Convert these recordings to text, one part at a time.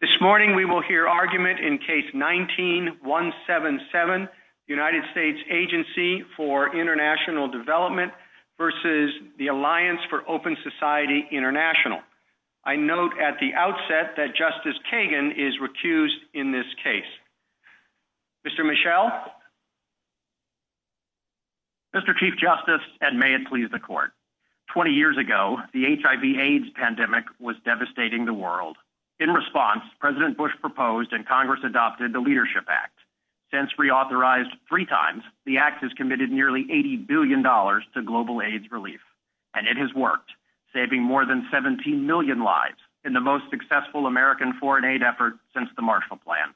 This morning, we will hear argument in Case 19-177, United States Agency for Int'l Development v. the Alliance for Open Society Int'l. I note at the outset that Justice Kagan is recused in this case. Mr. Mischel? Mr. Chief Justice, and may it please the Court, 20 years ago, the HIV-AIDS pandemic was devastating the world. In response, President Bush proposed and Congress adopted the Leadership Act. Since reauthorized three times, the Act has committed nearly $80 billion to global AIDS relief, and it has worked, saving more than 17 million lives in the most successful American foreign aid effort since the Marshall Plan.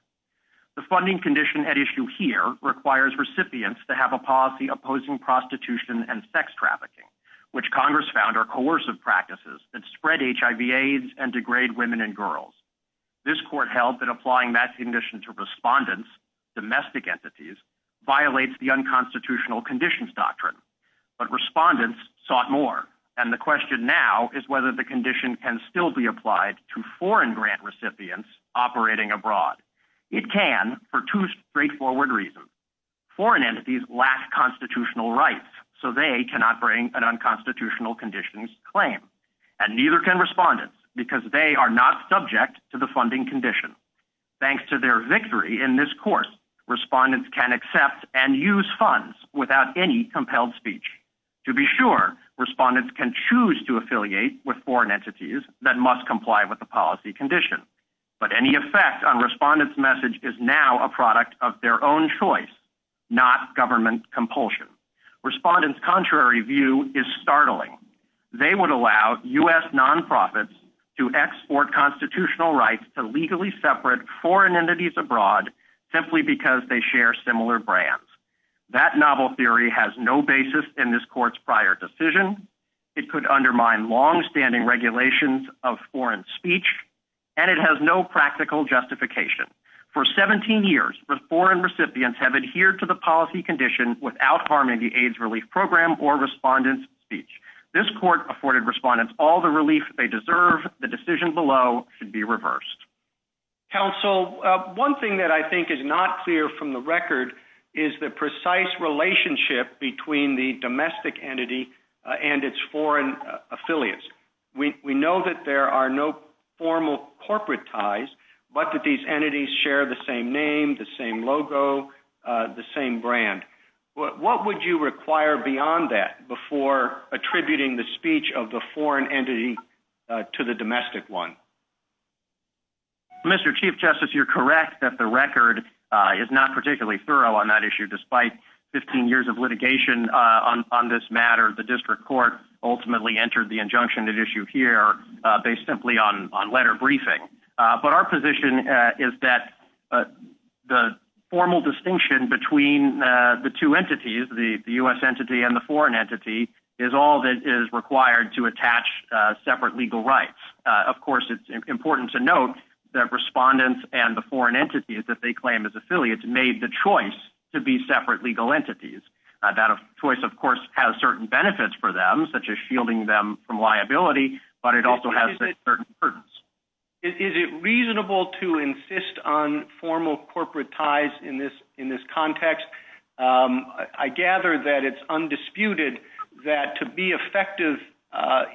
The funding condition at issue here requires recipients to have a policy opposing prostitution and sex trafficking, which Congress found are coercive practices that spread HIV-AIDS and degrade women and girls. This Court held that applying that condition to respondents, domestic entities, violates the unconstitutional conditions doctrine. But respondents sought more, and the question now is whether the condition can still be applied to foreign grant recipients operating abroad. It can, for two straightforward reasons. Foreign entities lack constitutional rights, so they cannot bring an unconstitutional conditions claim, and neither can respondents, because they are not subject to the funding condition. Thanks to their victory in this course, respondents can accept and use funds without any compelled speech. To be sure, respondents can choose to affiliate with foreign entities that must comply with the policy condition, but any effect on respondents' message is now a product of their own choice, not government compulsion. Respondents' contrary view is startling. They would allow U.S. nonprofits to export constitutional rights to legally separate foreign entities abroad simply because they share similar brands. That novel theory has no basis in this Court's prior decision. It could undermine longstanding regulations of foreign speech, and it has no practical justification. For 17 years, foreign recipients have adhered to the policy condition without harming the AIDS Relief Program or respondents' speech. This Court afforded respondents all the relief they deserve. The decision below should be reversed. Counsel, one thing that I think is not clear from the record is the precise relationship between the domestic entity and its foreign affiliates. We know that there are no formal corporate ties, but that these entities share the same name, the same logo, the same brand. What would you require beyond that before attributing the speech of the foreign entity to the domestic one? Mr. Chief Justice, you're correct that the record is not particularly thorough on that issue. Despite 15 years of litigation on this matter, the District Court ultimately entered the injunction at issue here based simply on letter briefing. But our position is that the formal distinction between the two entities, the U.S. entity and the foreign entity, is all that is required to attach separate legal rights. Of course, it's important to note that respondents and the foreign entities that they claim as affiliates made the choice to be separate legal entities. That choice, of course, has certain benefits for them, such as shielding them from liability, but it also has certain burdens. Is it reasonable to insist on formal corporate ties in this context? I gather that it's undisputed that to be effective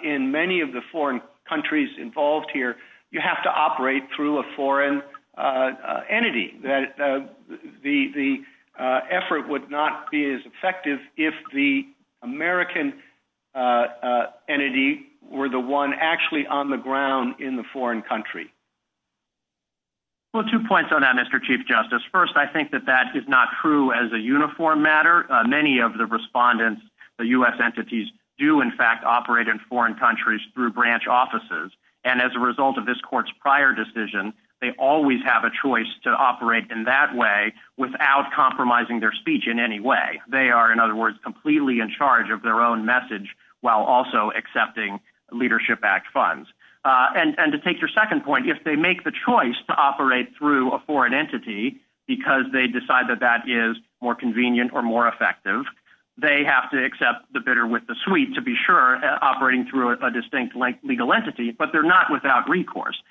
in many of the foreign countries involved here, you have to operate through a foreign entity. That the effort would not be as effective if the American entity were the one actually on the ground in the foreign country. Well, two points on that, Mr. Chief Justice. First, I think that that is not true as a uniform matter. Many of the respondents, the U.S. entities, do in fact operate in foreign countries through branch offices. And as a result of this court's prior decision, they always have a choice to operate in that way without compromising their speech in any way. They are, in other words, completely in charge of their own message while also accepting Leadership Act funds. And to take your second point, if they make the choice to operate through a foreign entity because they decide that that is more convenient or more effective, they have to accept the bitter with the sweet, to be sure, operating through a distinct legal entity, but they're not without recourse.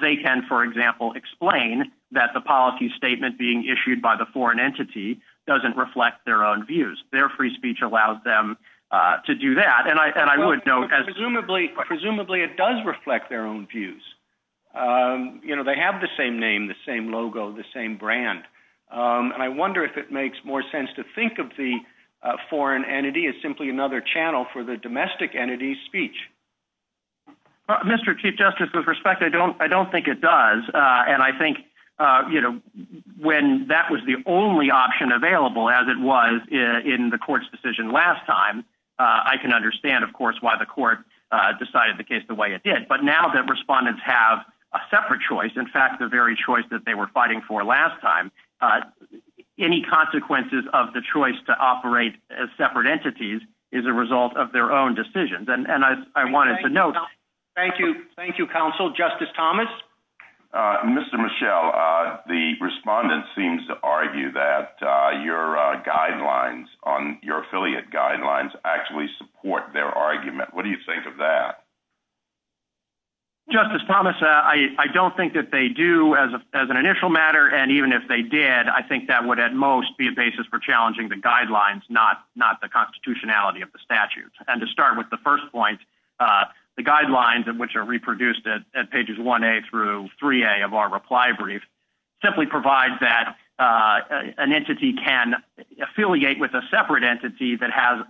They can, for example, explain that the policy statement being issued by the foreign entity doesn't reflect their own views. Their free speech allows them to do that. And I would note as- it does reflect their own views. They have the same name, the same logo, the same brand. And I wonder if it makes more sense to think of the foreign entity as simply another channel for the domestic entity's speech. Mr. Chief Justice, with respect, I don't think it does. And I think when that was the only option available I can understand, of course, why the court decided the case the way it did. But now that respondents have a separate choice, in fact, the very choice that they were fighting for last time, any consequences of the choice to operate as separate entities is a result of their own decisions. And I wanted to note- Thank you. Thank you, counsel. Justice Thomas. Mr. Mischel, the respondent seems to argue that your guidelines, your affiliate guidelines, actually support their argument. What do you think of that? Justice Thomas, I don't think that they do as an initial matter. And even if they did, I think that would at most be a basis for challenging the guidelines, not the constitutionality of the statute. And to start with the first point, the guidelines of which are reproduced at pages 1A through 3A of our reply brief simply provide that an entity can affiliate with a separate entity that has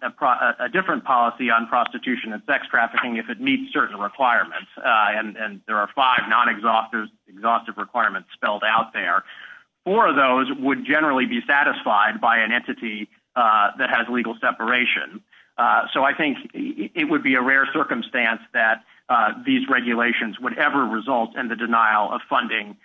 a different policy on prostitution and sex trafficking if it meets certain requirements. And there are five non-exhaustive requirements spelled out there. Four of those would generally be satisfied by an entity that has legal separation. So I think it would be a rare circumstance that these regulations would ever result in the denial of funding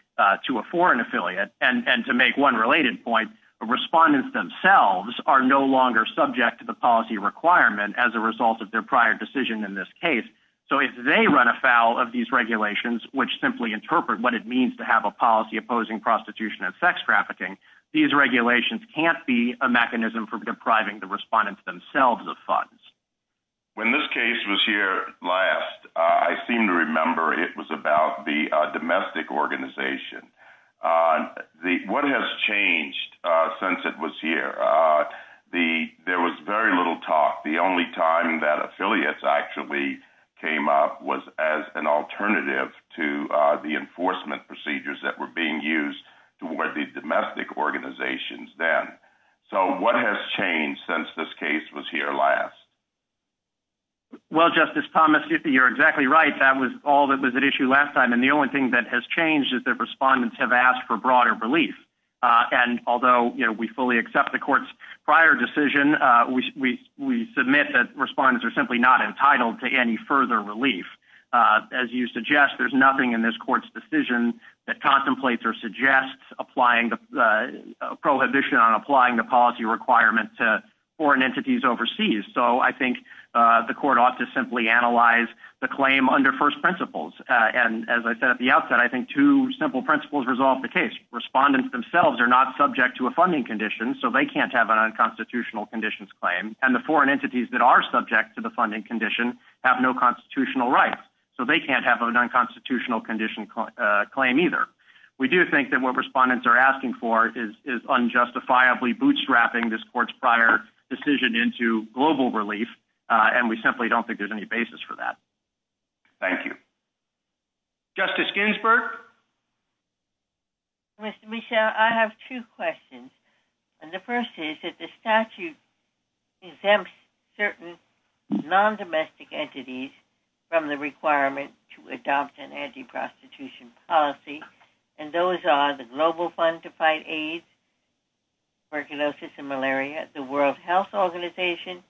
to a foreign affiliate. And to make one related point, respondents themselves are no longer subject to the policy requirement as a result of their prior decision in this case. So if they run afoul of these regulations, which simply interpret what it means to have a policy opposing prostitution and sex trafficking, these regulations can't be a mechanism for depriving the respondents themselves of funds. When this case was here last, I seem to remember it was about the domestic organization. What has changed since it was here? There was very little talk. The only time that affiliates actually came up was as an alternative to the enforcement procedures that were being used toward the domestic organizations then. So what has changed since this case was here last? Well, Justice Thomas, you're exactly right. That was all that was at issue last time. And the only thing that has changed is that respondents have asked for broader relief. And although we fully accept the court's prior decision, we submit that respondents are simply not entitled to any further relief. As you suggest, there's nothing in this court's decision that contemplates or suggests prohibition on applying the policy requirement to foreign entities overseas. So I think the court ought to simply analyze the claim under first principles. And as I said at the outset, I think two simple principles resolve the case. Respondents themselves are not subject to a funding condition, so they can't have an unconstitutional conditions claim. And the foreign entities that are subject to the funding condition have no constitutional rights, so they can't have an unconstitutional claim either. We do think that what respondents are asking for is unjustifiably bootstrapping this court's prior decision into global relief. And we simply don't think there's any basis for that. Thank you. Justice Ginsburg. Mr. Michel, I have two questions. And the first is that the statute exempts certain non-domestic entities from the requirement to adopt an anti-prostitution policy. And those are the Global Fund to Fight AIDS, Tuberculosis and Malaria, the World Health Organization,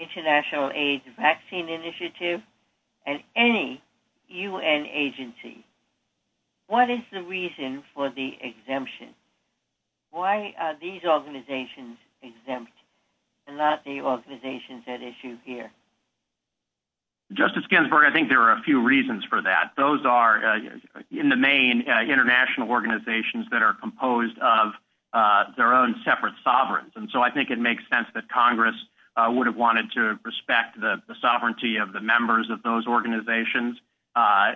International AIDS Vaccine Initiative, and any UN agency. What is the reason for the exemption? Why are these organizations exempt and not the organizations at issue here? Justice Ginsburg, I think there are a few reasons for that. Those are, in the main, international organizations that are composed of their own separate sovereigns. And so I think it makes sense that Congress would have wanted to respect the sovereignty of the members of those organizations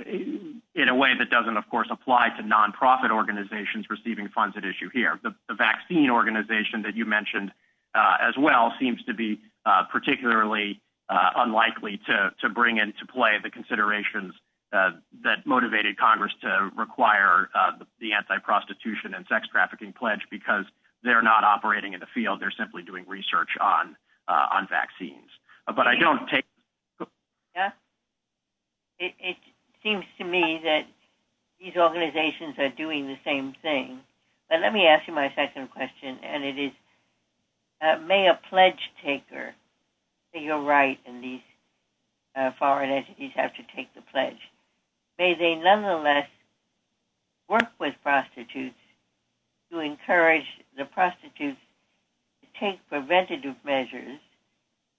in a way that doesn't, of course, apply to nonprofit organizations receiving funds at issue here. The vaccine organization that you mentioned as well seems to be particularly unlikely to bring into play the considerations that motivated Congress to require the anti-prostitution and sex trafficking pledge because they're not operating in the field. They're simply doing research on vaccines. But I don't take- It seems to me that these organizations are doing the same thing. But let me ask you my second question. And it is, may a pledge taker, you're right in these foreign entities have to take the pledge. May they nonetheless work with prostitutes to encourage the prostitutes to take preventative measures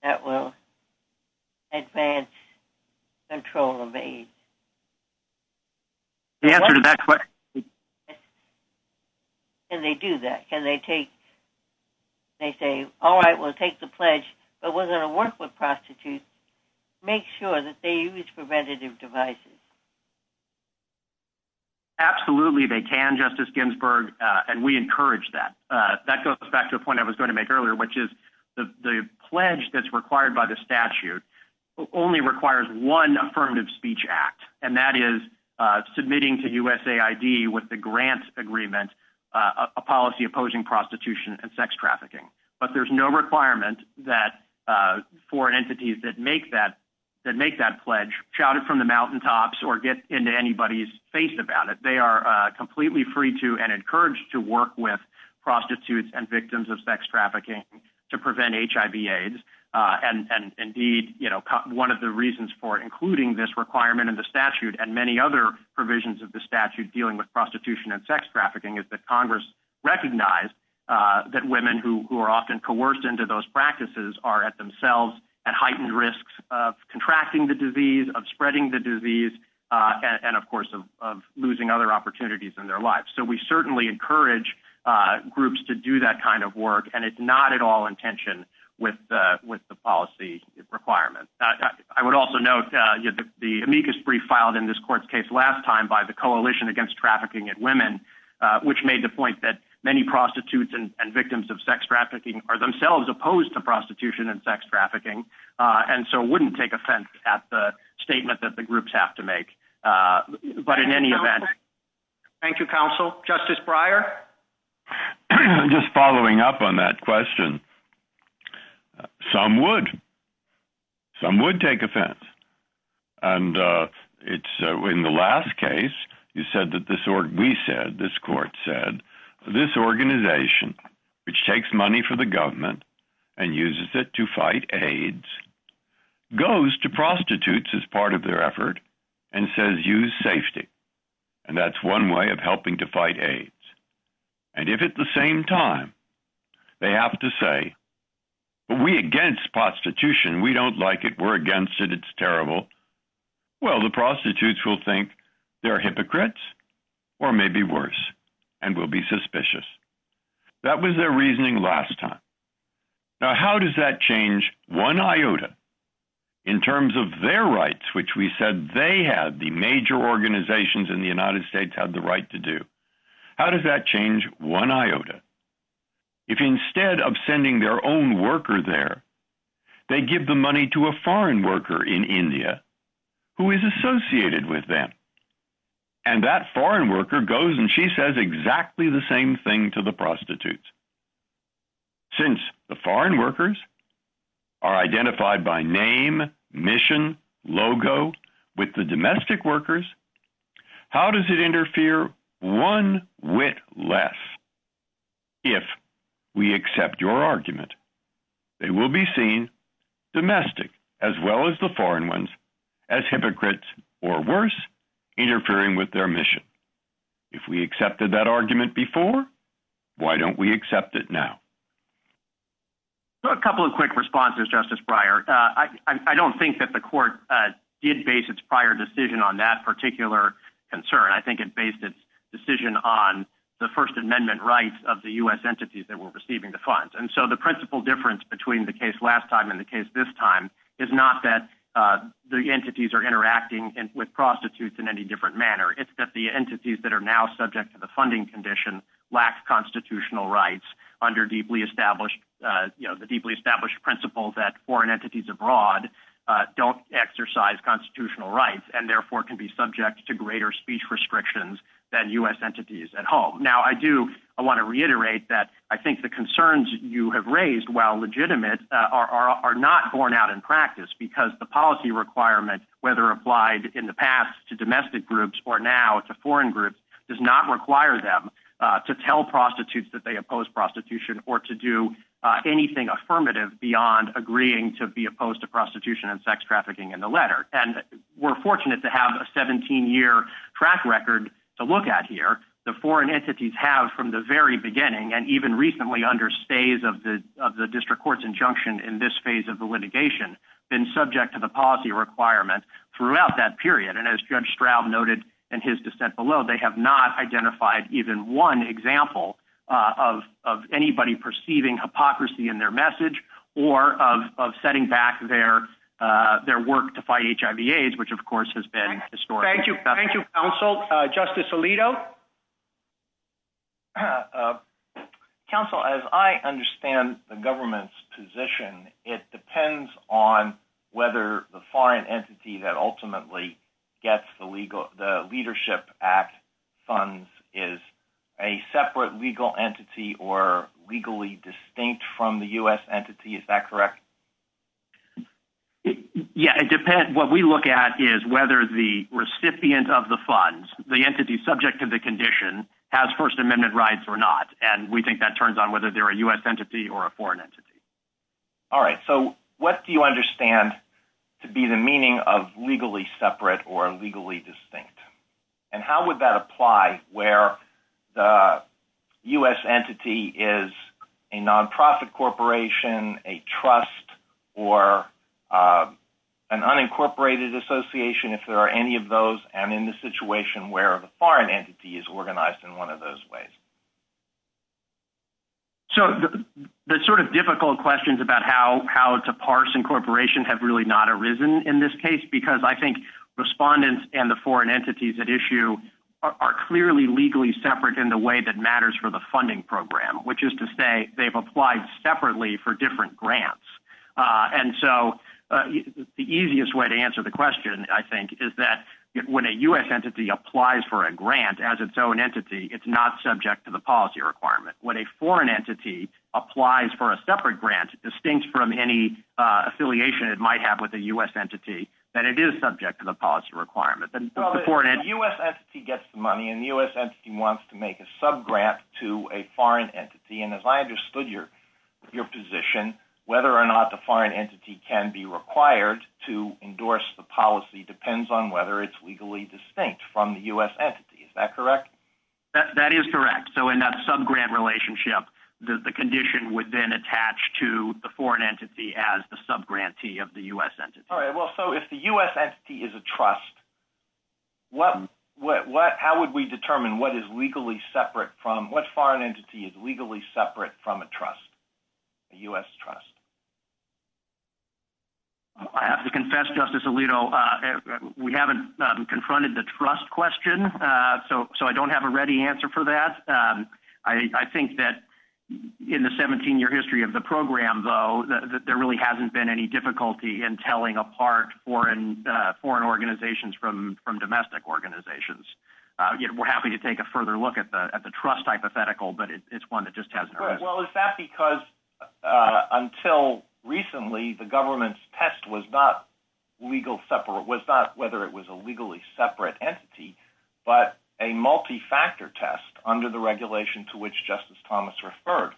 that will advance control of AIDS? The answer to that question- Can they do that? Can they take- They say, all right, we'll take the pledge, but we're going to work with prostitutes. Make sure that they use preventative devices. Absolutely they can, Justice Ginsburg. And we encourage that. That goes back to a point I was going to make earlier, which is the pledge that's required by the statute only requires one affirmative speech act. And that is submitting to USAID with the grant agreement, a policy opposing prostitution and sex trafficking. But there's no requirement that foreign entities that make that pledge shout it from the mountaintops or get into anybody's face about it. They are completely free to and encouraged to work with prostitutes and victims of sex trafficking to prevent HIV AIDS. And indeed, one of the reasons for including this requirement in the statute and many other provisions of the statute dealing with prostitution and sex trafficking is that Congress recognized that women who are often coerced into those practices are at themselves at heightened risks of contracting the disease, of spreading the disease, and of course of losing other opportunities in their lives. So we certainly encourage groups to do that kind of work. And it's not at all in tension with the policy requirement. I would also note the amicus brief filed in this court's case last time by the Coalition Against Trafficking in Women, which made the point that many prostitutes and victims of sex trafficking are themselves opposed to prostitution and sex trafficking. And so it wouldn't take offense at the statement that the groups have to make. But in any event... Justice Breyer? Just following up on that question, some would. Some would take offense. And it's in the last case, you said that this court said, this organization, which takes money for the government and uses it to fight AIDS, goes to prostitutes as part of their effort and says, use safety. And that's one way of helping to fight AIDS. And if at the same time they have to say, we're against prostitution, we don't like it, we're against it, it's terrible. Well, the prostitutes will think they're hypocrites or maybe worse and will be suspicious. That was their reasoning last time. Now, how does that change one iota in terms of their rights, which we said they have, the major organizations in the United States have the right to do? How does that change one iota? If instead of sending their own worker there, they give the money to a foreign worker in India who is associated with them. And that foreign worker goes and she says exactly the same thing to the prostitutes. Since the foreign workers are identified by name, mission, logo with the domestic workers, how does it interfere one whit less? If we accept your argument, they will be seen domestic as well as the foreign ones as hypocrites or worse interfering with their mission. If we accepted that argument before, why don't we accept it now? So a couple of quick responses, Justice Breyer. I don't think that the court did base its prior decision on that particular concern. I think it based its decision on the first amendment rights of the US entities that were receiving the funds. And so the principal difference between the case last time and the case this time is not that the entities are interacting with prostitutes in any different manner. It's that the entities that are now subject to the funding condition lacks constitutional rights under the deeply established principles that foreign entities abroad don't exercise constitutional rights and therefore can be subject to greater speech restrictions than US entities at home. Now I do, I wanna reiterate that I think the concerns you have raised while legitimate are not borne out in practice because the policy requirement, whether applied in the past to domestic groups or now to foreign groups does not require them to tell prostitutes that they oppose prostitution or to do anything affirmative beyond agreeing to be opposed to prostitution and sex trafficking in the letter. And we're fortunate to have a 17 year track record to look at here. The foreign entities have from the very beginning and even recently under stays of the district court's injunction in this phase of the litigation been subject to the policy requirement throughout that period. And as Judge Straub noted in his dissent below, they have not identified even one example of anybody perceiving hypocrisy in their message or of setting back their work to fight HIV AIDS, which of course has been historic. Thank you counsel. Justice Alito. Counsel, as I understand the government's position, it depends on whether the foreign entity that ultimately gets the leadership act funds is a separate legal entity or legally distinct from the U.S. entity, is that correct? Yeah, it depends. What we look at is whether the recipient of the funds, the entity subject to the condition has first amendment rights or not. And we think that turns on whether they're a U.S. entity or a foreign entity. All right, so what do you understand to be the meaning of legally separate or legally distinct? And how would that apply where the U.S. entity is a nonprofit corporation, a trust or an unincorporated association, if there are any of those and in the situation where the foreign entity is organized in one of those ways? So the sort of difficult questions about how to parse incorporation have really not arisen in this case, because I think respondents and the foreign entities at issue are clearly legally separate in the way that matters for the funding program, which is to say they've applied separately for different grants. And so the easiest way to answer the question, I think, is that when a U.S. entity applies for a grant as its own entity, it's not subject to the policy requirement. When a foreign entity applies for a separate grant, distinct from any affiliation it might have with a U.S. entity, then it is subject to the policy requirement. The U.S. entity gets the money and the U.S. entity wants to make a subgrant to a foreign entity. And as I understood your position, whether or not the foreign entity can be required to endorse the policy depends on whether it's legally distinct from the U.S. entity, is that correct? That is correct. So in that subgrant relationship, the condition would then attach to the foreign entity as the subgrantee of the U.S. entity. All right, well, so if the U.S. entity is a trust, how would we determine what is legally separate from, what foreign entity is legally separate from a trust, a U.S. trust? I have to confess, Justice Alito, we haven't confronted the trust question, so I don't have a ready answer for that. I think that in the 17-year history of the program, though, that there really hasn't been any difficulty in telling apart foreign organizations from domestic organizations. We're happy to take a further look at the trust hypothetical, but it's one that just hasn't arisen. Well, is that because until recently, the government's test was not legal separate, was not whether it was a legally separate entity, but a multi-factor test under the regulation to which Justice Thomas referred?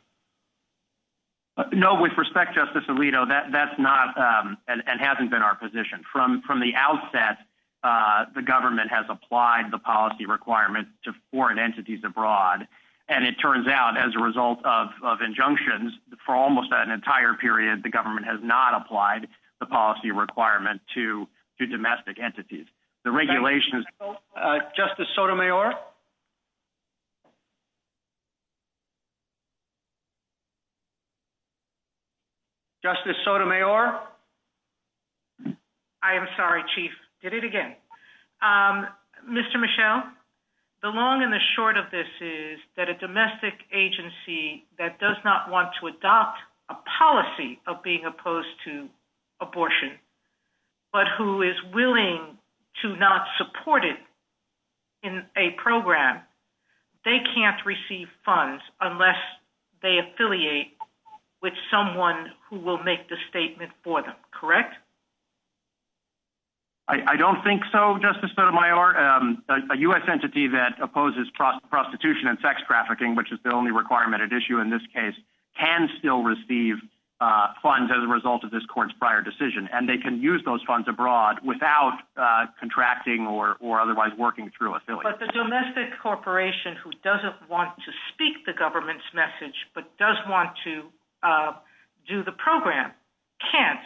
No, with respect, Justice Alito, that's not, and hasn't been our position. From the outset, the government has applied the policy requirement to foreign entities abroad, and it turns out, as a result of injunctions, for almost an entire period, the government has not applied the policy requirement to domestic entities. The regulation is- Justice Sotomayor? Justice Sotomayor? I am sorry, Chief. Did it again. Mr. Michel, the long and the short of this is that a domestic agency that does not want to adopt a policy of being opposed to abortion, but who is willing to not support it in a program, they can't receive funds unless they affiliate with someone who will make the statement for them, correct? I don't think so, Justice Sotomayor. A U.S. entity that opposes prostitution and sex trafficking, which is the only requirement at issue in this case, can still receive funds as a result of this court's prior decision, and they can use those funds abroad without contracting or otherwise working through affiliates. But the domestic corporation who doesn't want to speak the government's message but does want to do the program can't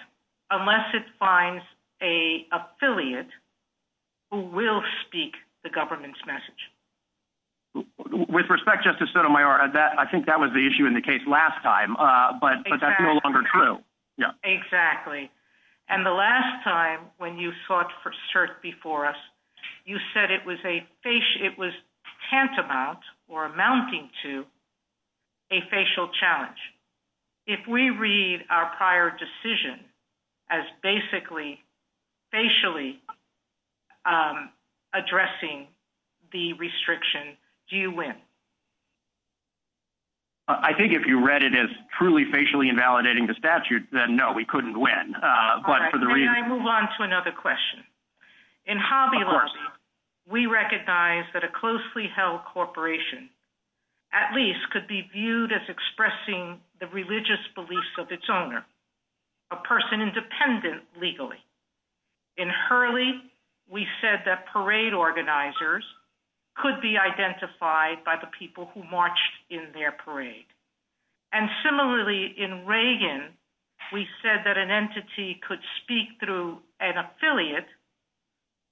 unless it finds an affiliate who will speak the government's message. With respect, Justice Sotomayor, I think that was the issue in the case last time, but that's no longer true. Exactly. And the last time when you sought cert before us, you said it was tantamount or amounting to a facial challenge. If we read our prior decision as basically facially addressing the restriction, do you win? I think if you read it as truly facially invalidating the statute, then, no, we couldn't win. All right. May I move on to another question? In Hobby Lobby, we recognize that a closely held corporation at least could be viewed as expressing the religious beliefs of its owner, a person independent legally. In Hurley, we said that parade organizers could be identified by the people who marched in their parade. And similarly, in Reagan, we said that an entity could speak through an affiliate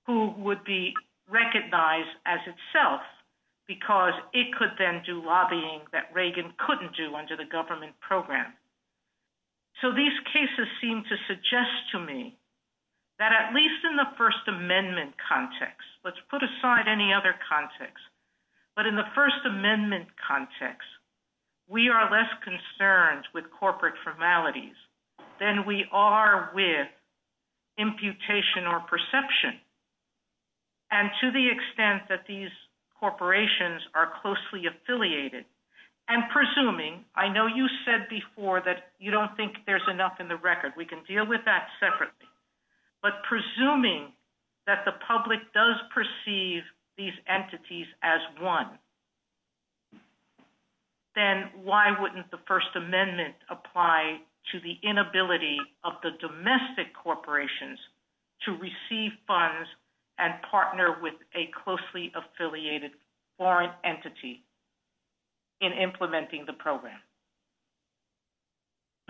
who would be recognized as itself because it could then do lobbying that Reagan couldn't do under the government program. So these cases seem to suggest to me that at least in the First Amendment context, let's put aside any other context, but in the First Amendment context, we are less concerned with corporate formalities than we are with imputation or perception. And to the extent that these corporations are closely affiliated and presuming, I know you said before that you don't think there's enough in the record. We can deal with that separately. But presuming that the public does perceive these entities as one, then why wouldn't the First Amendment apply to the inability of the domestic corporations to receive funds and partner with a closely affiliated foreign entity in implementing the program?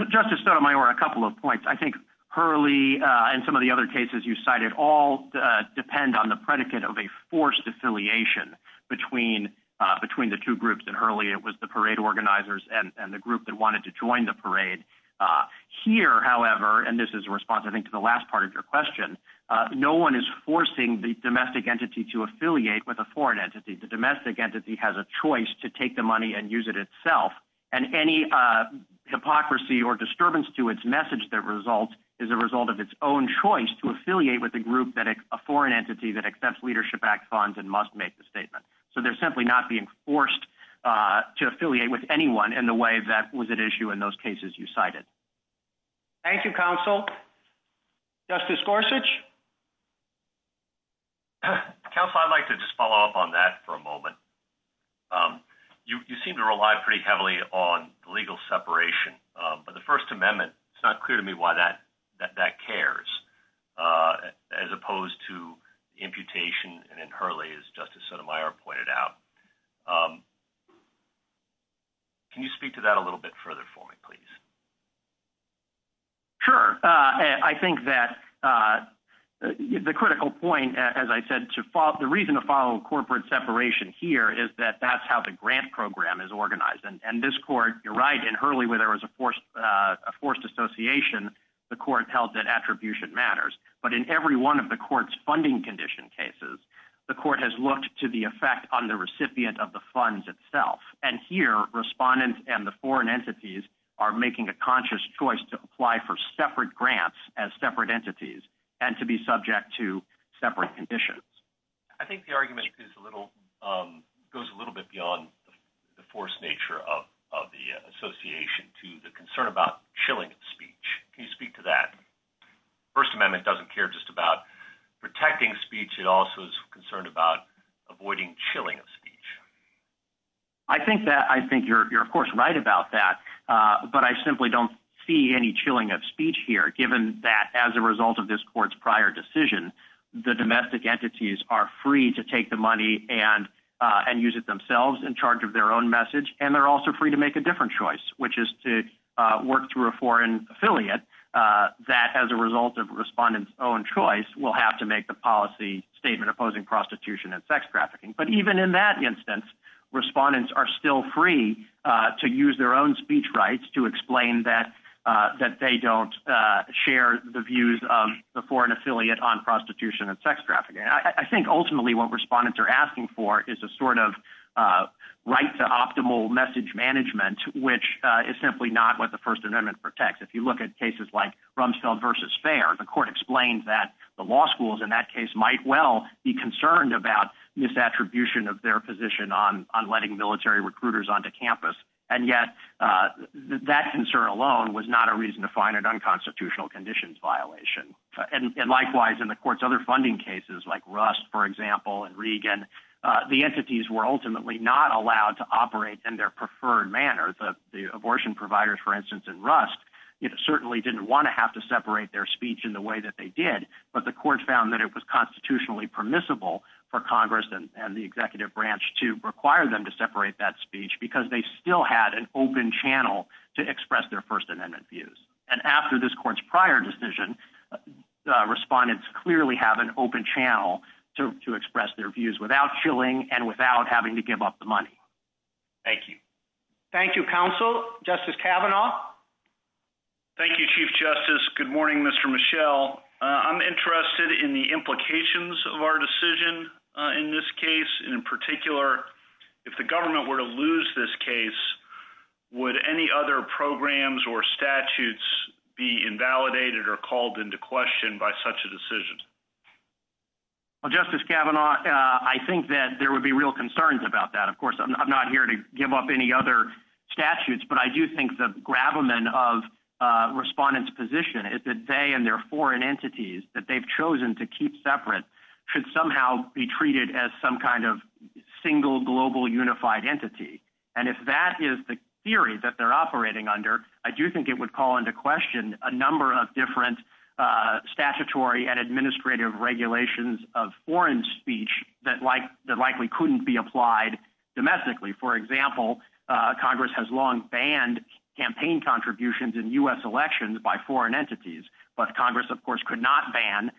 Justice Sotomayor, a couple of points. I think Hurley and some of the other cases you cited all depend on the predicate of a forced affiliation between the two groups. And Hurley, it was the parade organizers and the group that wanted to join the parade. Here, however, and this is a response, I think, to the last part of your question, no one is forcing the domestic entity to affiliate with a foreign entity. The domestic entity has a choice to take the money and use it itself. And any hypocrisy or disturbance to its message that results is a result of its own choice to affiliate with a group, a foreign entity that accepts leadership-backed funds and must make the statement. So they're simply not being forced to affiliate with anyone in the way that was at issue in those cases you cited. Thank you, Counsel. Justice Gorsuch? Counsel, I'd like to just follow up on that for a moment. You seem to rely pretty heavily on legal separation. But the First Amendment, it's not clear to me why that cares, as opposed to imputation in Hurley, as Justice Sotomayor pointed out. Can you speak to that a little bit further for me, please? Sure. I think that the critical point, as I said, the reason to follow corporate separation here is that that's how the grant program is organized. And this court, you're right, in Hurley, where there was a forced association, the court held that attribution matters. But in every one of the court's funding condition cases, the court has looked to the effect on the recipient of the funds itself. And here, respondents and the foreign entities are making a conscious choice to apply for separate grants as separate entities and to be subject to separate conditions. I think the argument goes a little bit beyond the forced nature of the association to the concern about chilling speech. Can you speak to that? First Amendment doesn't care just about protecting speech. It also is concerned about avoiding chilling of speech. I think you're, of course, right about that. But I simply don't see any chilling of speech here, given that as a result of this court's prior decision, the domestic entities are free to take the money and use it themselves in charge of their own message. And they're also free to make a different choice, which is to work through a foreign affiliate that, as a result of a respondent's own choice, will have to make the policy statement opposing prostitution and sex trafficking. But even in that instance, respondents are still free to use their own speech rights to explain that they don't share the views of the foreign affiliate on prostitution and sex trafficking. I think ultimately what respondents are asking for is a sort of right to optimal message management, which is simply not what the First Amendment protects. If you look at cases like Rumsfeld versus Fair, the court explained that the law schools in that case might well be concerned about misattribution of their position on letting military recruiters onto campus, and yet that concern alone was not a reason to find an unconstitutional conditions violation. And likewise, in the court's other funding cases, like Rust, for example, and Regan, the entities were ultimately not allowed to operate in their preferred manner. The abortion providers, for instance, in Rust, it certainly didn't want to have to separate their speech in the way that they did, but the court found that it was constitutionally permissible for Congress and the executive branch to require them to separate that speech because they still had an open channel to express their First Amendment views. And after this court's prior decision, respondents clearly have an open channel to express their views without shilling and without having to give up the money. Thank you. Thank you, counsel. Justice Kavanaugh. Thank you, Chief Justice. Good morning, Mr. Michel. I'm interested in the implications of our decision in this case, and in particular, if the government were to lose this case, would any other programs or statutes be invalidated or called into question by such a decision? Well, Justice Kavanaugh, I think that there would be real concerns about that. Of course, I'm not here to give up any other statutes, but I do think the gravamen of respondents' position is that they and their foreign entities that they've chosen to keep separate should somehow be treated as some kind of single global unified entity. And if that is the theory that they're operating under, I do think it would call into question a number of different statutory and administrative regulations of foreign speech that likely couldn't be applied domestically. For example, Congress has long banned campaign contributions in U.S. elections by foreign entities, but Congress, of course, could not ban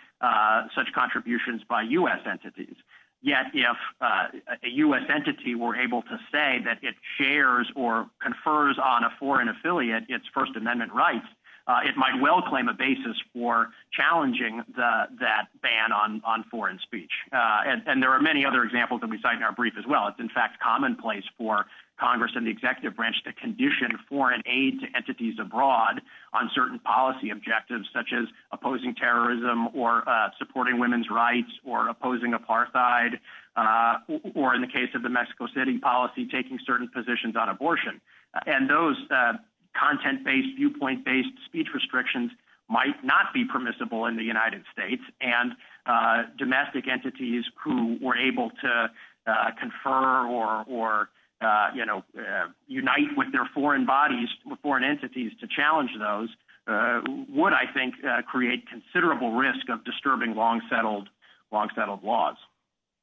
such contributions by U.S. entities. Yet, if a U.S. entity were able to say that it shares or confers on a foreign affiliate its First Amendment rights, it might well claim a basis for challenging that ban on foreign speech. And there are many other examples that we cite in our brief as well. It's, in fact, commonplace for Congress and the executive branch to condition foreign aid to entities abroad on certain policy objectives, such as opposing terrorism or supporting women's rights or opposing apartheid or, in the case of the Mexico City policy, taking certain positions on abortion. And those content-based, viewpoint-based speech restrictions might not be permissible in the United States, and domestic entities who were able to confer or, you know, unite with their foreign bodies, foreign entities to challenge those, would, I think, create considerable risk of disturbing long-settled laws.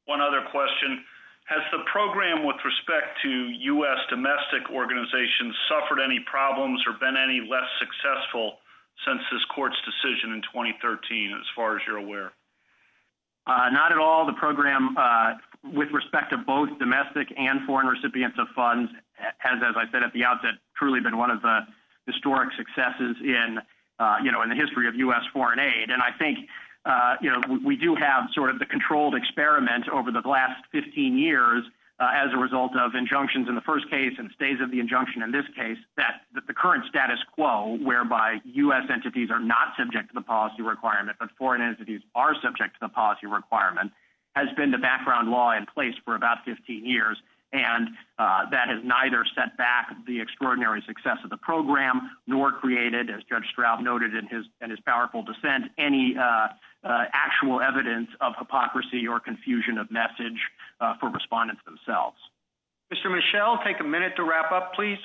One other question. Has the program, with respect to U.S. domestic organizations, suffered any problems or been any less successful since this court's decision in 2013, as far as you're aware? Not at all. The program, with respect to both domestic and foreign recipients of funds, has, as I said at the outset, truly been one of the historic successes in, you know, in the history of U.S. foreign aid. And I think, you know, we do have, sort of, the controlled experiment over the last 15 years as a result of injunctions in the first case and stays of the injunction in this case, that the current status quo, whereby U.S. entities are not subject to the policy requirement, but foreign entities are subject to the policy requirement, has been the background law in place for about 15 years. And that has neither set back the extraordinary success of the program, nor created, as Judge Straub noted in his powerful dissent, any actual evidence of hypocrisy or confusion of message for respondents themselves. Mr. Mischel, take a minute to wrap up, please.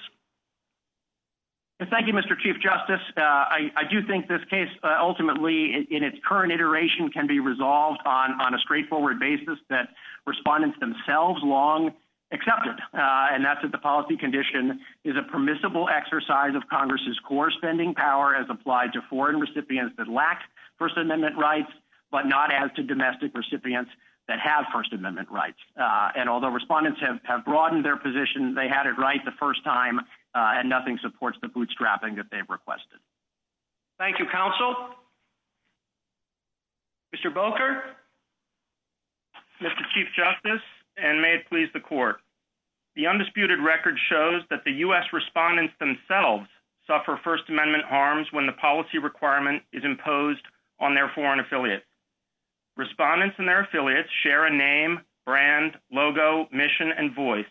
Thank you, Mr. Chief Justice. I do think this case, ultimately, in its current iteration, can be resolved on a straightforward basis that respondents themselves long accepted, and that's that the policy condition is a permissible exercise of Congress's core spending power as applied to foreign recipients that lack First Amendment rights, but not as to domestic recipients that have First Amendment rights. And although respondents have broadened their position, they had it right the first time, and nothing supports the bootstrapping that they've requested. Thank you, counsel. Mr. Boker? Mr. Chief Justice, and may it please the Court. The undisputed record shows that the U.S. respondents themselves suffer First Amendment harms when the policy requirement is imposed on their foreign affiliates. Respondents and their affiliates share a name, brand, logo, mission, and voice.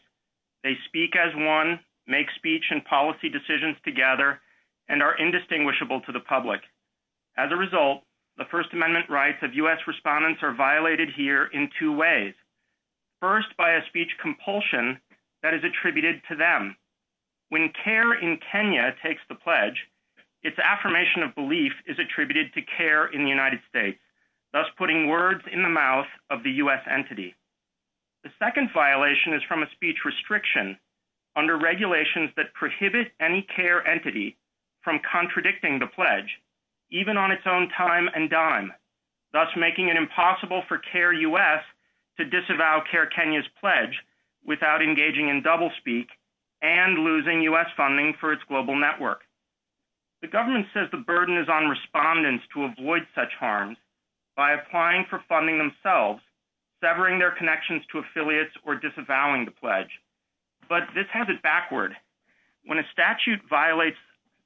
They speak as one, make speech and policy decisions together, and are indistinguishable to the public. As a result, the First Amendment rights of U.S. respondents are violated here in two ways. First, by a speech compulsion that is attributed to them. When CARE in Kenya takes the pledge, its affirmation of belief is attributed to CARE in the United States, thus putting words in the mouth of the U.S. entity. The second violation is from a speech restriction under regulations that prohibit any CARE entity from contradicting the pledge, even on its own time and dime, thus making it impossible for CARE U.S. to disavow CARE Kenya's pledge without engaging in doublespeak and losing U.S. funding for its global network. The government says the burden is on respondents to avoid such harms by applying for funding themselves, severing their connections to affiliates or disavowing the pledge. But this has it backward. When a statute violates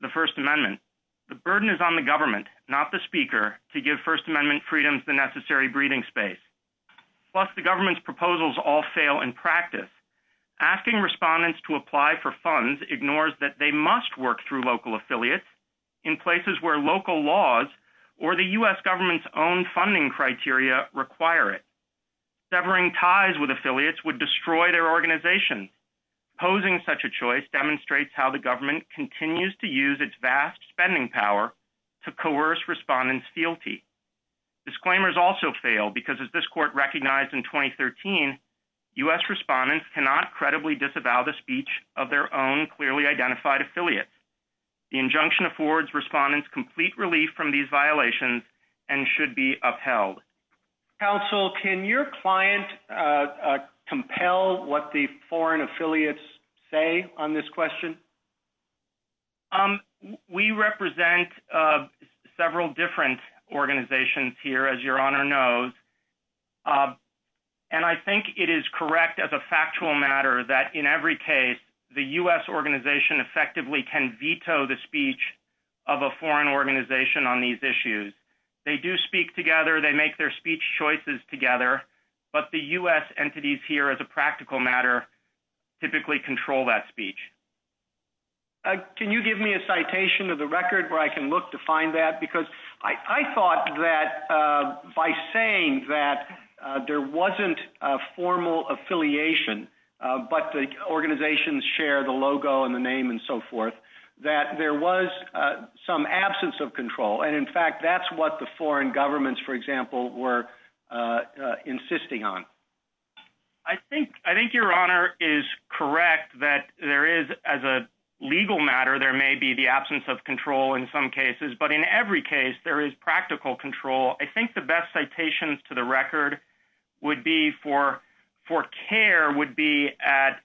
the First Amendment, the burden is on the government, not the speaker, to give First Amendment freedoms the necessary breathing space. Plus, the government's proposals all fail in practice. Asking respondents to apply for funds ignores that they must work through local affiliates in places where local laws or the U.S. government's own funding criteria require it. Severing ties with affiliates would destroy their organization. Posing such a choice demonstrates how the government continues to use its vast spending power to coerce respondents' fealty. Disclaimers also fail because, as this court recognized in 2013, U.S. respondents cannot credibly disavow the speech of their own clearly identified affiliates. The injunction affords respondents complete relief from these violations and should be upheld. Counsel, can your client compel what the foreign affiliates say on this question? We represent several different organizations here, as Your Honor knows. And I think it is correct as a factual matter that, in every case, the U.S. organization effectively can veto the speech of a foreign organization on these issues. They do speak together. They make their speech choices together. But the U.S. entities here, as a practical matter, typically control that speech. Can you give me a citation of the record where I can look to find that? Because I thought that by saying that there wasn't a formal affiliation, but the organizations share the logo and the name and so forth, that there was some absence of control. And, in fact, that's what the foreign governments, for example, were insisting on. I think Your Honor is correct that there is, as a legal matter, there may be the absence of control in some cases. But in every case, there is practical control. I think the best citations to the record would be for care would be at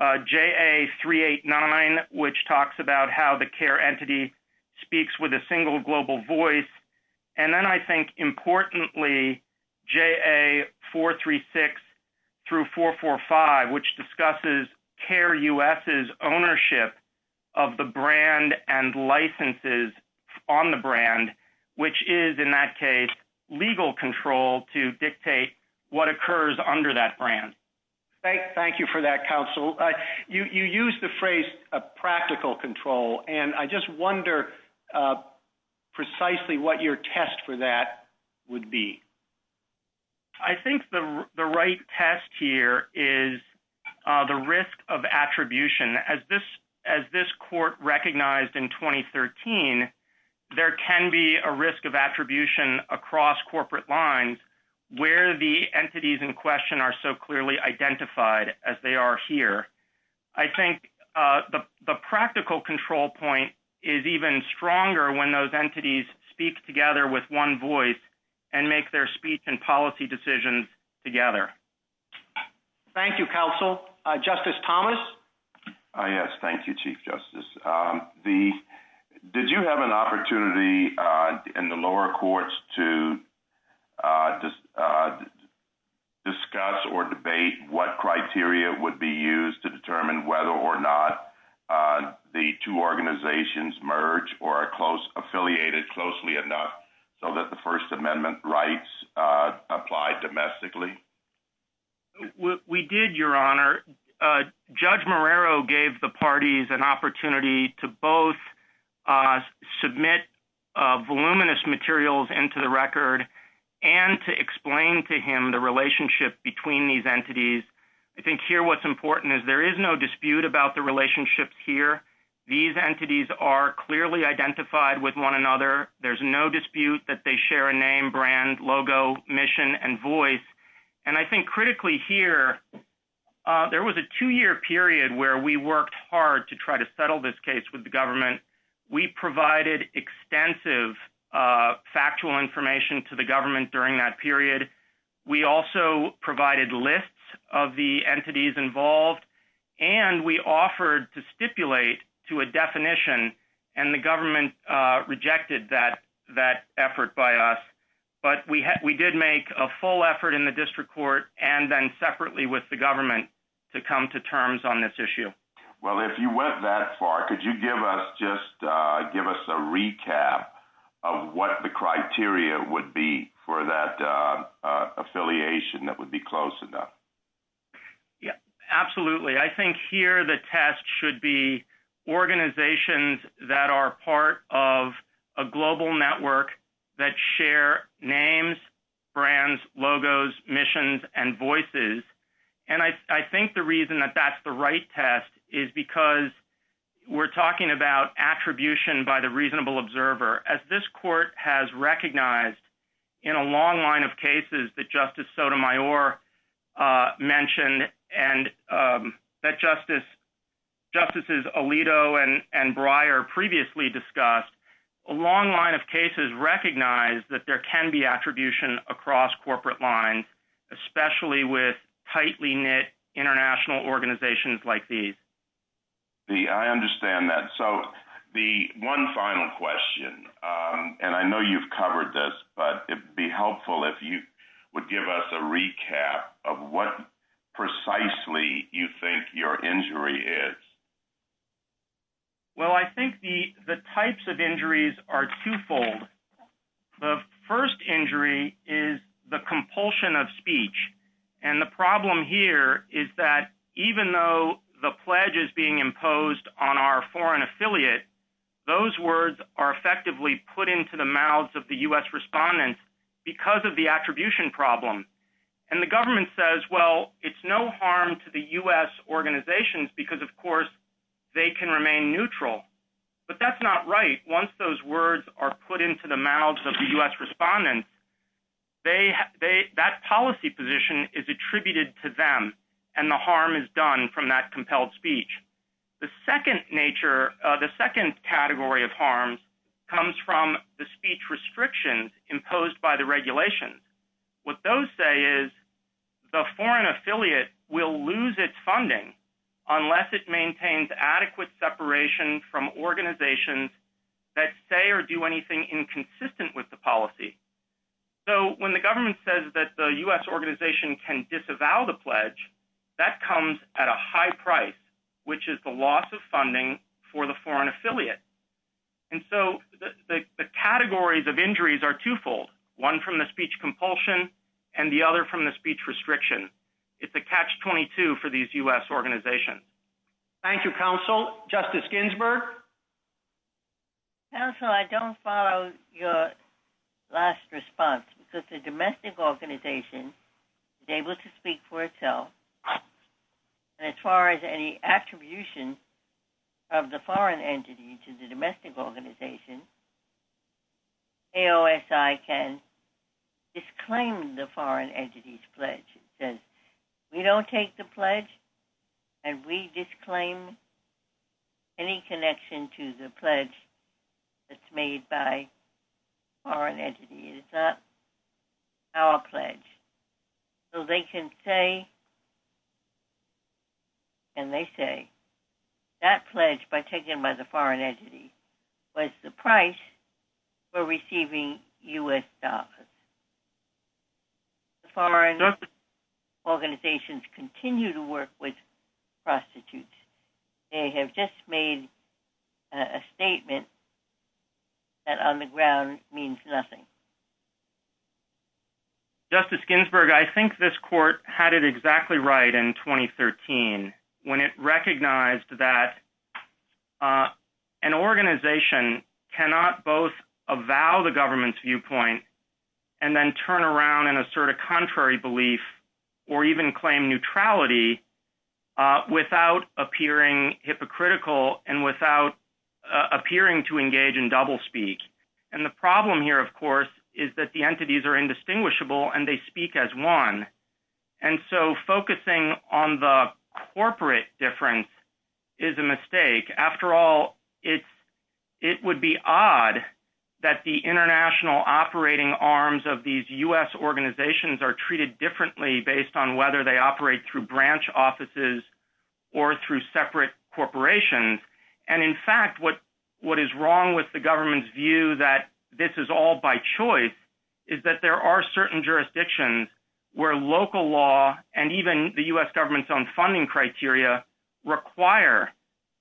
JA389, which talks about how the care entity speaks with a single global voice. And then, I think, importantly, JA436 through 445, which discusses Care U.S.'s ownership of the brand and licenses on the brand, which is, in that case, legal control to dictate what occurs under that brand. Thank you for that, Counsel. You used the phrase practical control, and I just wonder precisely what your test for that would be. I think the right test here is the risk of attribution. As this Court recognized in 2013, there can be a risk of attribution across corporate lines where the entities in question are so clearly identified as they are here. I think the practical control point is even stronger when those entities speak together with one voice and make their speech and policy decisions together. Thank you, Counsel. Justice Thomas? Ah, yes, thank you, Chief Justice. The, did you have an opportunity in the lower courts to discuss or debate what criteria would be used to determine whether or not the two organizations merge or are close, affiliated closely enough so that the First Amendment rights apply domestically? We did, Your Honor. Judge Marrero gave the parties an opportunity to both submit voluminous materials into the record and to explain to him the relationship between these entities. I think here what's important is there is no dispute about the relationships here. These entities are clearly identified with one another. There's no dispute that they share a name, brand, logo, mission, and voice. And I think critically here, there was a two-year period where we worked hard to try to settle this case with the government. We provided extensive factual information to the government during that period. We also provided lists of the entities involved, and we offered to stipulate to a definition, and the government rejected that effort by us. But we did make a full effort in the district court and then separately with the government to come to terms on this issue. Well, if you went that far, could you give us just, give us a recap of what the criteria would be for that affiliation that would be close enough? Yeah, absolutely. I think here the test should be organizations that are part of a global network that share names, brands, logos, missions, and voices. And I think the reason that that's the right test is because we're talking about attribution by the reasonable observer, as this court has recognized in a long line of cases that Justice Sotomayor mentioned and that Justices Alito and Breyer previously discussed, a long line of cases recognize that there can be attribution across corporate lines, especially with tightly knit international organizations like these. I understand that. So the one final question, and I know you've covered this, but it'd be helpful if you would give us a recap of what precisely you think your injury is. Well, I think the types of injuries are twofold. The first injury is the compulsion of speech. And the problem here is that even though the pledge is being imposed on our foreign affiliate, those words are effectively put into the mouths of the US respondents because of the attribution problem. And the government says, well, it's no harm to the US organizations because of course they can remain neutral. But that's not right. Once those words are put into the mouths of the US respondents, that policy position is attributed to them and the harm is done from that compelled speech. The second category of harms comes from the speech restrictions imposed by the regulations. What those say is the foreign affiliate will lose its funding unless it maintains adequate separation from organizations that say or do anything inconsistent with the policy. So when the government says that the US organization can disavow the pledge, that comes at a high price, which is the loss of funding for the foreign affiliate. And so the categories of injuries are twofold. One from the speech compulsion and the other from the speech restriction. It's a catch-22 for these US organizations. Thank you, counsel. Justice Ginsburg. Counsel, I don't follow your last response because the domestic organization is able to speak for itself. And as far as any attribution of the foreign entity to the domestic organization, AOSI can disclaim the foreign entity's pledge. It says, we don't take the pledge and we disclaim any connection to the pledge that's made by a foreign entity. It's not our pledge. So they can say, and they say, that pledge by taken by the foreign entity was the price for receiving US dollars. The foreign organizations continue to work with prostitutes. They have just made a statement that on the ground means nothing. Justice Ginsburg, I think this court had it exactly right in 2013 when it recognized that an organization cannot both avow the government's viewpoint and then turn around and assert a contrary belief or even claim neutrality without appearing hypocritical and without appearing to engage in double speak. And the problem here, of course, is that the entities are indistinguishable and they speak as one. And so focusing on the corporate difference is a mistake. After all, it would be odd that the international operating arms of these US organizations are treated differently based on whether they operate through branch offices or through separate corporations. And in fact, what is wrong with the government's view that this is all by choice is that there are certain jurisdictions where local law and even the US government's own funding criteria require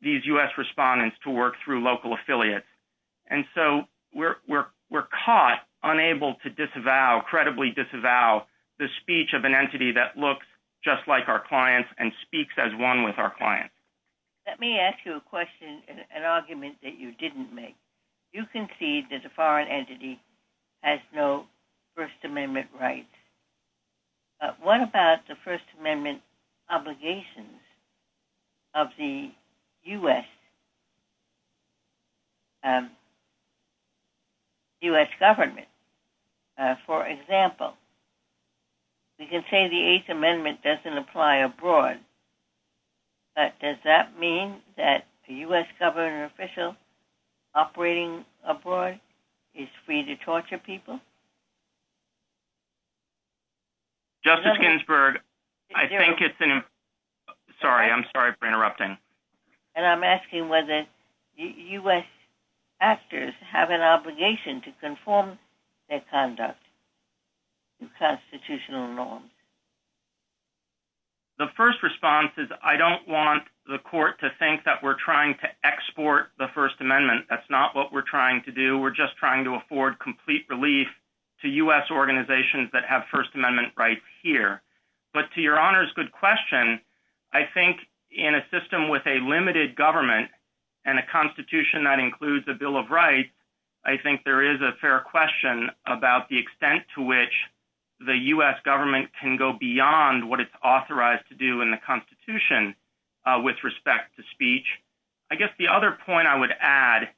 these US respondents to work through local affiliates. And so we're caught unable to disavow, credibly disavow the speech of an entity that looks just like our clients and speaks as one with our clients. Let me ask you a question, an argument that you didn't make. You concede that a foreign entity has no First Amendment rights. But what about the First Amendment obligations of the US government? For example, we can say the Eighth Amendment doesn't apply abroad, but does that mean that a US government official operating abroad is free to torture people? Justice Ginsburg, I think it's an... Sorry, I'm sorry for interrupting. And I'm asking whether US actors have an obligation to conform their conduct to constitutional norms. The first response is I don't want the court to think that we're trying to export the First Amendment. That's not what we're trying to do. We're just trying to afford complete relief to US organizations that have First Amendment rights here. But to your honor's good question, I think in a system with a limited government and a constitution that includes the Bill of Rights, I think there is a fair question about the extent to which the US government can go beyond what it's authorized to do in the constitution with respect to speech. I guess the other point I would add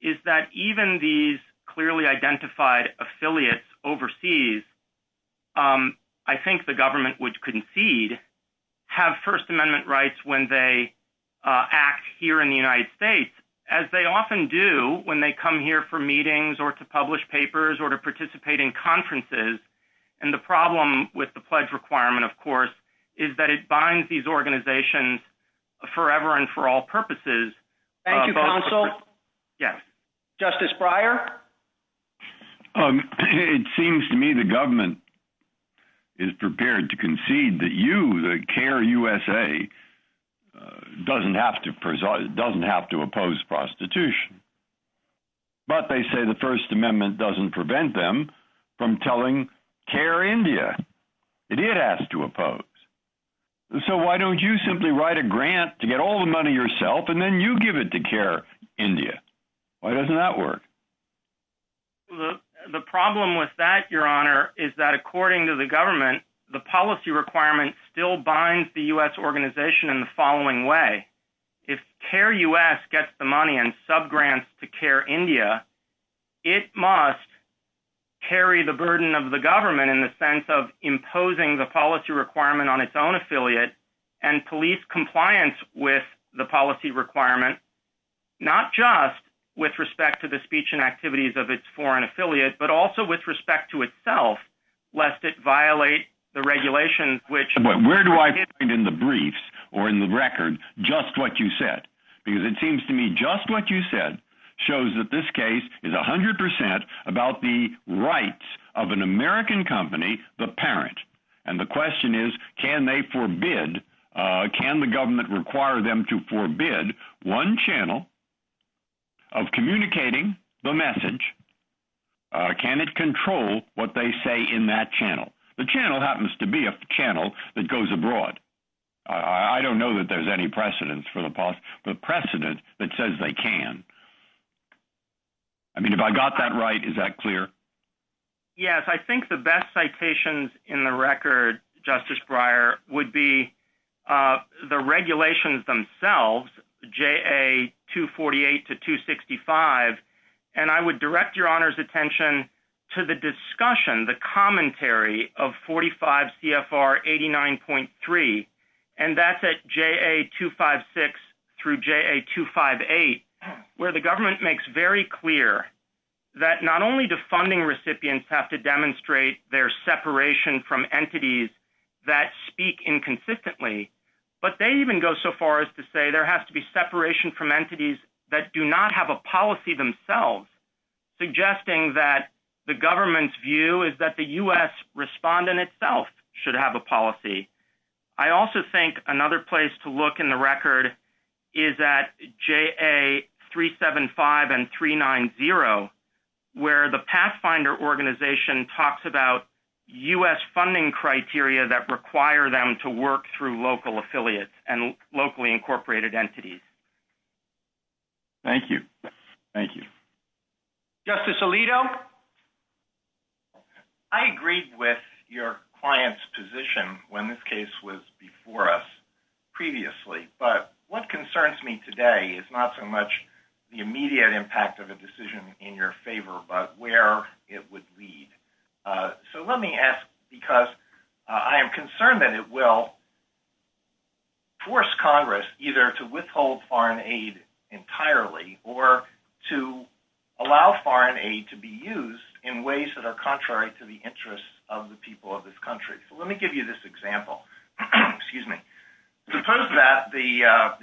is that even these clearly identified affiliates overseas, I think the government would concede have First Amendment rights when they act here in the United States, as they often do when they come here for meetings or to publish papers or to participate in conferences. And the problem with the pledge requirement, of course, is that it binds these organizations forever and for all purposes. Thank you, counsel. Yes. Justice Breyer. It seems to me the government is prepared to concede that you, the CARE USA, doesn't have to oppose prostitution. But they say the First Amendment doesn't prevent them from telling CARE India that it has to oppose. So why don't you simply write a grant to get all the money yourself, and then you give it to CARE India? Why doesn't that work? The problem with that, Your Honor, is that according to the government, the policy requirement still binds the US organization in the following way. If CARE US gets the money and subgrants to CARE India, it must carry the burden of the government in the sense of imposing the policy requirement on its own affiliate and police compliance with the policy requirement, not just with respect to the speech and activities of its foreign affiliate, but also with respect to itself, lest it violate the regulations which- Where do I find in the briefs or in the record just what you said? Because it seems to me just what you said shows that this case is 100% about the rights of an American company, the parent. And the question is, can they forbid, can the government require them to forbid one channel of communicating the message? Can it control what they say in that channel? The channel happens to be a channel that goes abroad. I don't know that there's any precedence for the past, but precedent that says they can. I mean, if I got that right, is that clear? Yes, I think the best citations in the record, Justice Breyer, would be the regulations themselves, JA 248 to 265. And I would direct your honor's attention to the discussion, the commentary of 45 CFR 89.3. And that's at JA 256 through JA 258, where the government makes very clear that not only do funding recipients have to demonstrate their separation from entities that speak inconsistently, but they even go so far as to say there has to be separation from entities that do not have a policy themselves, suggesting that the government's view is that the US respondent itself should have a policy. I also think another place to look in the record is at JA 375 and 390, where the Pathfinder Organization talks about US funding criteria that require them to work through local affiliates and locally incorporated entities. Thank you. Thank you. Justice Alito. I agreed with your client's position when this case was before us previously, but what concerns me today is not so much the immediate impact of a decision in your favor, but where it would lead. So let me ask, because I am concerned that it will force Congress either to withhold foreign aid entirely or to allow foreign aid to be used in ways that are contrary to the interests of the people of this country. So let me give you this example. Excuse me. Suppose that the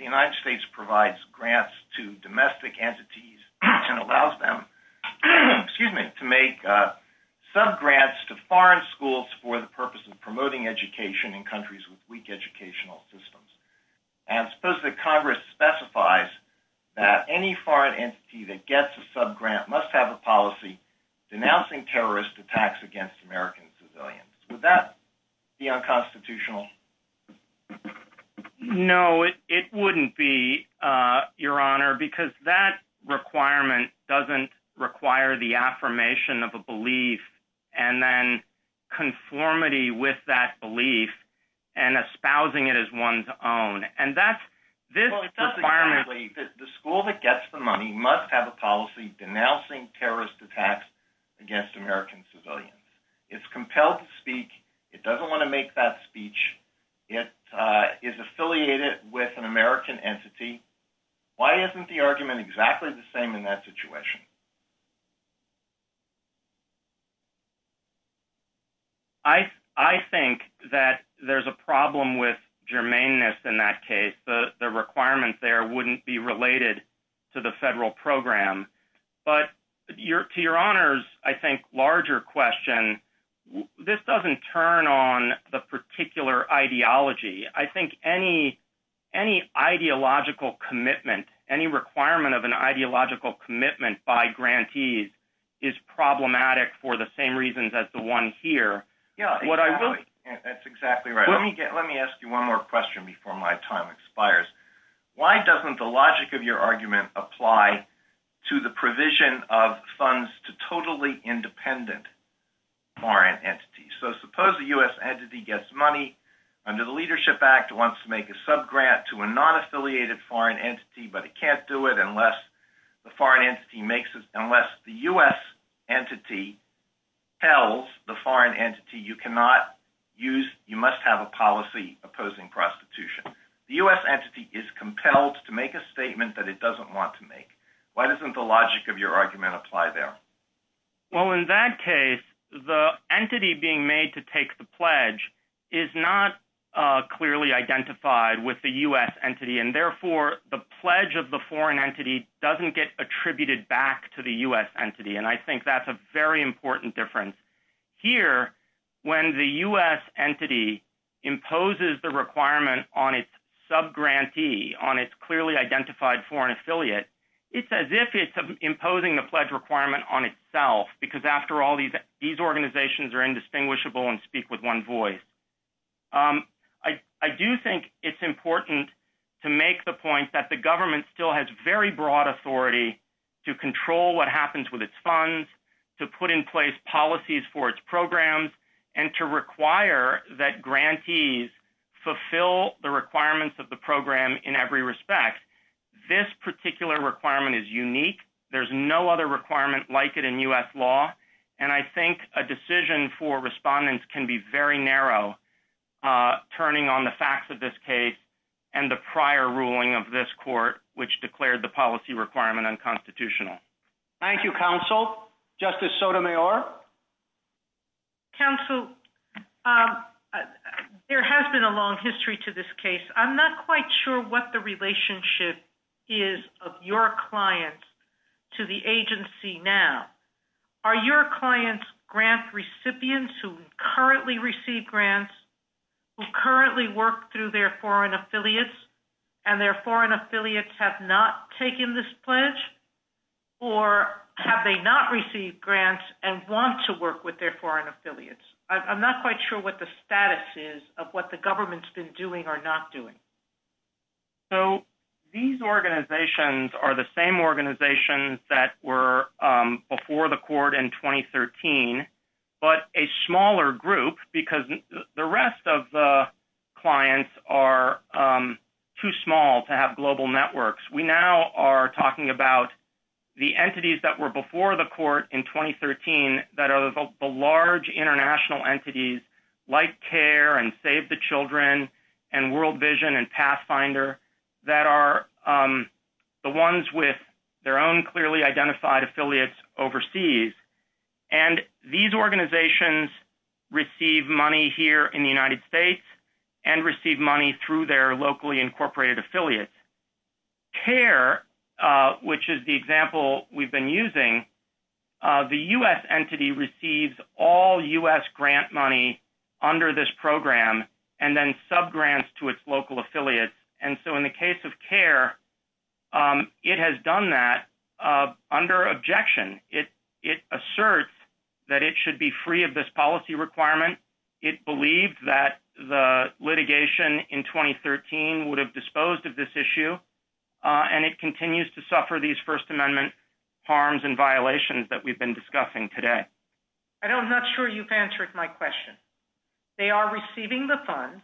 United States provides grants to domestic entities and allows them, excuse me, to make subgrants to foreign schools for the purpose of promoting education in countries with weak educational systems. And suppose that Congress specifies that any foreign entity that gets a subgrant must have a policy denouncing terrorist attacks against American civilians. Would that be unconstitutional? No, it wouldn't be, Your Honor, because that requirement doesn't require the affirmation of a belief and then conformity with that belief and espousing it as one's own. And that's, this requirement- Well, it doesn't really. The school that gets the money must have a policy denouncing terrorist attacks against American civilians. It's compelled to speak. It doesn't want to make that speech. It is affiliated with an American entity. Why isn't the argument exactly the same in that situation? I think that there's a problem with germaneness in that case. The requirement there wouldn't be related to the federal program. But to Your Honor's, I think, larger question, this doesn't turn on the particular ideology. I think any ideological commitment, any requirement of an ideological commitment by grantees is problematic for the same reasons as the one here. Yeah, that's exactly right. Let me ask you one more question before my time expires. Why doesn't the logic of your argument apply to the provision of funds to totally independent foreign entities? So suppose the US entity gets money under the Leadership Act, wants to make a subgrant to a non-affiliated foreign entity, but it can't do it unless the foreign entity makes it, unless the US entity tells the foreign entity, you cannot use, you must have a policy opposing prostitution. The US entity is compelled to make a statement that it doesn't want to make. Why doesn't the logic of your argument apply there? Well, in that case, the entity being made to take the pledge is not clearly identified with the US entity. And therefore, the pledge of the foreign entity doesn't get attributed back to the US entity. And I think that's a very important difference. Here, when the US entity imposes the requirement on its subgrantee, on its clearly identified foreign affiliate, it's as if it's imposing the pledge requirement on itself, because after all, these organizations are indistinguishable and speak with one voice. I do think it's important to make the point that the government still has very broad authority to control what happens with its funds, to put in place policies for its programs, and to require that grantees fulfill the requirements of the program in every respect. This particular requirement is unique. There's no other requirement like it in US law. And I think a decision for respondents can be very narrow, turning on the facts of this case and the prior ruling of this court, which declared the policy requirement unconstitutional. Thank you, counsel. Justice Sotomayor? Counsel, there has been a long history to this case. I'm not quite sure what the relationship is of your clients to the agency now. Are your clients grant recipients who currently receive grants, who currently work through their foreign affiliates, and their foreign affiliates have not taken this pledge, or have they not received grants and want to work with their foreign affiliates? I'm not quite sure what the status is of what the government's been doing or not doing. So, these organizations are the same organizations that were before the court in 2013, but a smaller group, because the rest of the clients are too small to have global networks. We now are talking about the entities that were before the court in 2013 that are the large international entities, like CARE and Save the Children and World Vision and Pathfinder, that are the ones with their own clearly identified affiliates overseas. And these organizations receive money here in the United States and receive money through their locally incorporated affiliates. CARE, which is the example we've been using, the U.S. entity receives all U.S. grant money under this program and then subgrants to its local affiliates. And so, in the case of CARE, it has done that under objection. It asserts that it should be free of this policy requirement. It believed that the litigation in 2013 would have disposed of this issue, and it continues to suffer these First Amendment harms and violations that we've been discussing today. I'm not sure you've answered my question. They are receiving the funds.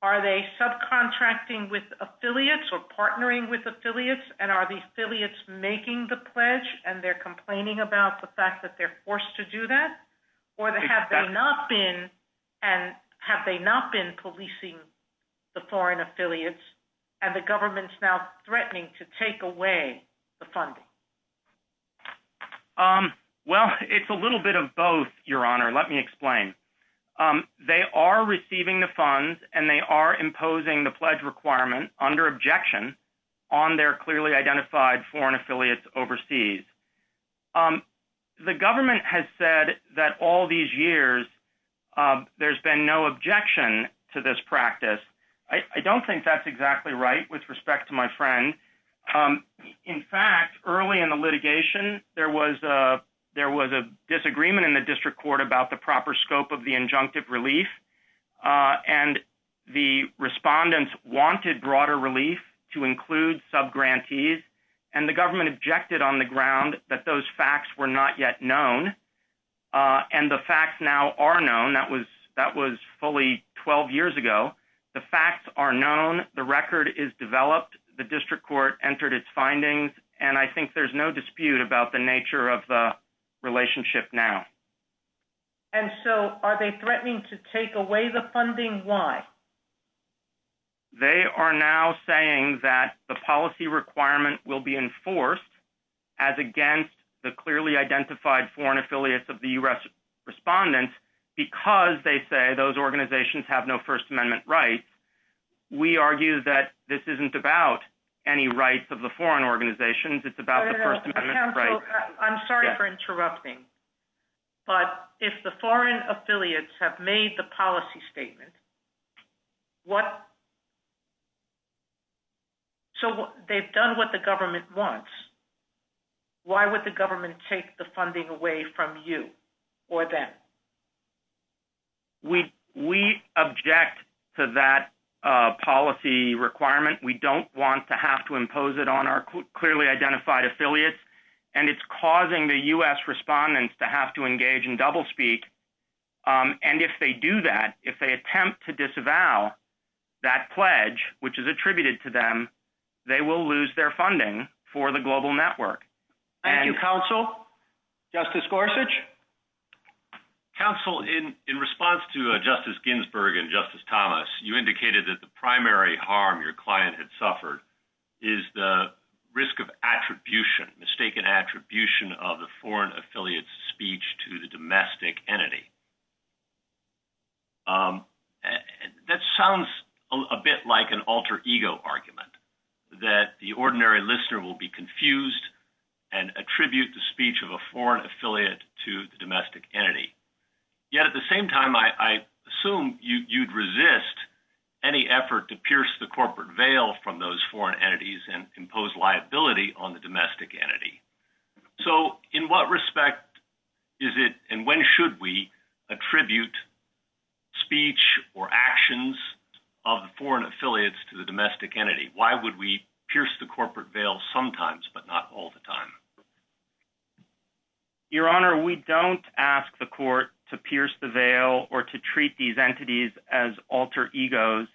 Are they subcontracting with affiliates or partnering with affiliates? And are the affiliates making the pledge and they're complaining about the fact that they're forced to do that? Or have they not been policing the foreign affiliates and the government's now threatening to take away the funding? Well, it's a little bit of both, Your Honor. Let me explain. They are receiving the funds, and they are imposing the pledge requirement under objection on their clearly identified foreign affiliates overseas. The government has said that all these years there's been no objection to this practice. I don't think that's exactly right with respect to my friend. In fact, early in the litigation, there was a disagreement in the district court about the proper scope of the injunctive relief, and the respondents wanted broader relief to include subgrantees, and the government objected on the ground that those facts were not yet known. And the facts now are known. That was fully 12 years ago. The facts are known. The record is developed. The district court entered its findings, and I think there's no dispute about the nature of the relationship now. And so are they threatening to take away the funding? Why? They are now saying that the policy requirement will be enforced as against the clearly identified foreign affiliates of the U.S. respondents because they say those organizations have no First Amendment rights. We argue that this isn't about any rights of the foreign organizations. It's about the First Amendment rights. I'm sorry for interrupting, but if the foreign affiliates have made the policy statement, what... So they've done what the government wants. Why would the government take the funding away from you or them? We object to that policy requirement. We don't want to have to impose it on our clearly identified affiliates, and it's causing the U.S. respondents to have to engage in doublespeak. And if they do that, if they attempt to disavow that pledge, which is attributed to them, they will lose their funding for the global network. Thank you, Counsel. Justice Gorsuch? Counsel, in response to Justice Ginsburg and Justice Thomas, you indicated that the primary harm your client had suffered is the risk of attribution, mistaken attribution of the foreign affiliate's speech to the domestic entity. That sounds a bit like an alter-ego argument, that the ordinary listener will be confused and attribute the speech of a foreign affiliate to the domestic entity. Yet at the same time, I assume you'd resist any effort to pierce the corporate veil from those foreign entities and impose liability on the domestic entity. So in what respect is it, and when should we, attribute speech or actions of the foreign affiliates to the domestic entity? Why would we pierce the corporate veil sometimes, but not all the time? Your Honor, we don't ask the court to pierce the veil or to treat these entities as alter-egos.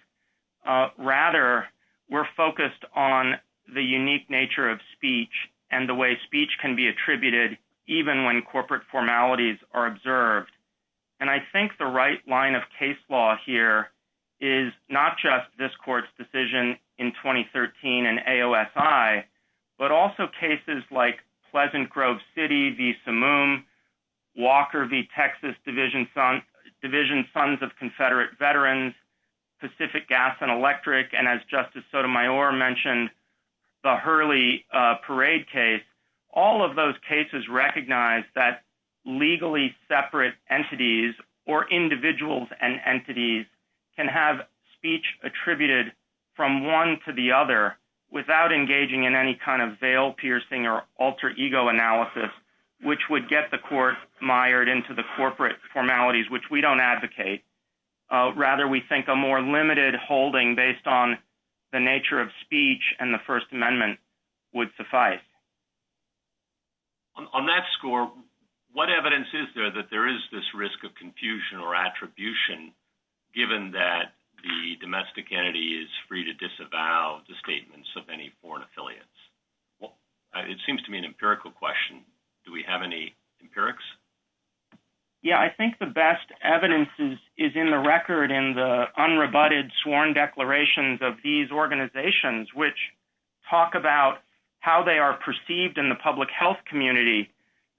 Rather, we're focused on the unique nature of speech and the way speech can be attributed, even when corporate formalities are observed. And I think the right line of case law here is not just this court's decision in 2013 and AOSI, but also cases like Pleasant Grove City v. Samoom, Walker v. Texas Division Sons of Confederate Veterans, Pacific Gas and Electric, and as Justice Sotomayor mentioned, the Hurley Parade case. All of those cases recognize that legally separate entities or individuals and entities can have speech attributed from one to the other without engaging in any kind of veil-piercing or alter-ego analysis, which would get the court mired into the corporate formalities, which we don't advocate. Rather, we think a more limited holding based on the nature of speech and the First Amendment would suffice. On that score, what evidence is there that there is this risk of confusion or attribution, given that the domestic entity is free to disavow the statements of any foreign affiliates? It seems to me an empirical question. Do we have any empirics? Yeah, I think the best evidence is in the record in the unrebutted sworn declarations of these organizations, which talk about how they are perceived in the public health community,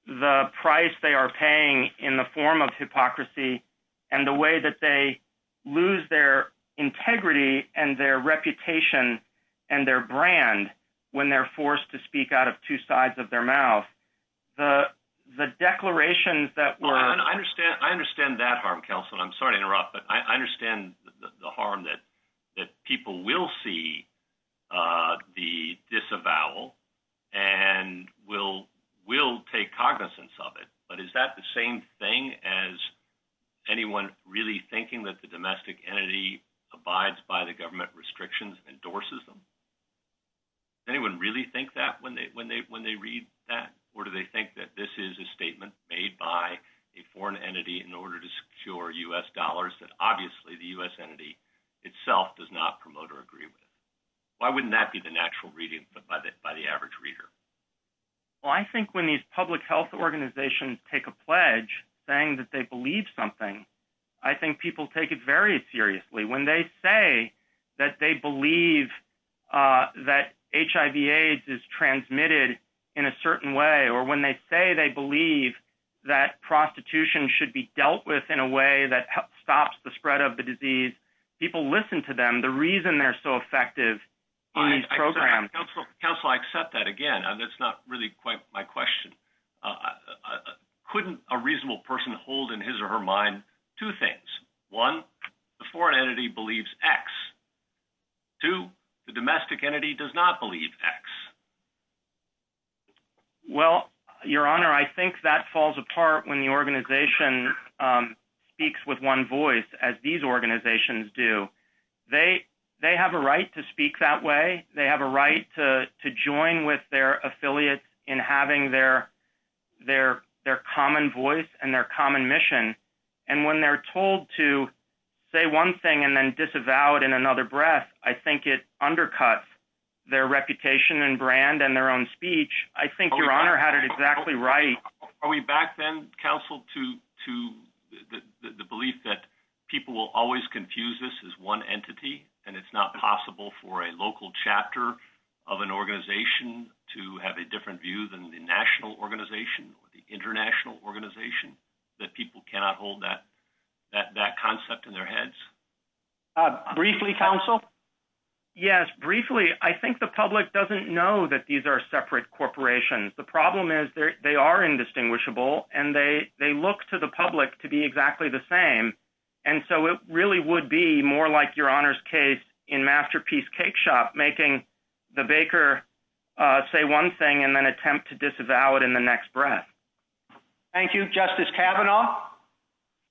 the price they are paying in the form of hypocrisy, and the way that they lose their integrity and their reputation and their brand when they're forced to speak out of two sides of their mouth. The declarations that were... I understand that harm, Kelson. I'm sorry to interrupt, but I understand the harm that people will see the disavowal and will take cognizance of it. But is that the same thing as anyone really thinking that the domestic entity abides by the government restrictions and endorses them? Anyone really think that when they read that? Or do they think that this is a statement made by a foreign entity in order to secure U.S. dollars that obviously the U.S. entity itself does not promote or agree with? Why wouldn't that be the natural reading by the average reader? Well, I think when these public health organizations take a pledge saying that they believe something, I think people take it very seriously. When they say that they believe that HIV-AIDS is transmitted in a certain way, or when they say they believe that prostitution should be dealt with in a way that stops the spread of the disease, people listen to them, the reason they're so effective in these programs. Counselor, I accept that again. That's not really quite my question. Couldn't a reasonable person hold in his or her mind two things? One, the foreign entity believes X. Two, the domestic entity does not believe X. Well, Your Honor, I think that falls apart when the organization speaks with one voice, as these organizations do. They have a right to speak that way. They have a right to join with their affiliates in having their common voice and their common mission. And when they're told to say one thing and then disavow it in another breath, I think it undercuts their reputation and brand and their own speech. I think Your Honor had it exactly right. Are we back then, Counsel, to the belief that people will always confuse this as one entity and it's not possible for a local chapter of an organization to have a different view than the national organization or the international organization, that people cannot hold that concept in their heads? Briefly, Counsel? Yes, briefly. I think the public doesn't know that these are separate corporations. The problem is they are indistinguishable and they look to the public to be exactly the same. And so it really would be more like Your Honor's case in Masterpiece Cake Shop, making the baker say one thing and then attempt to disavow it in the next breath. Thank you. Justice Kavanaugh?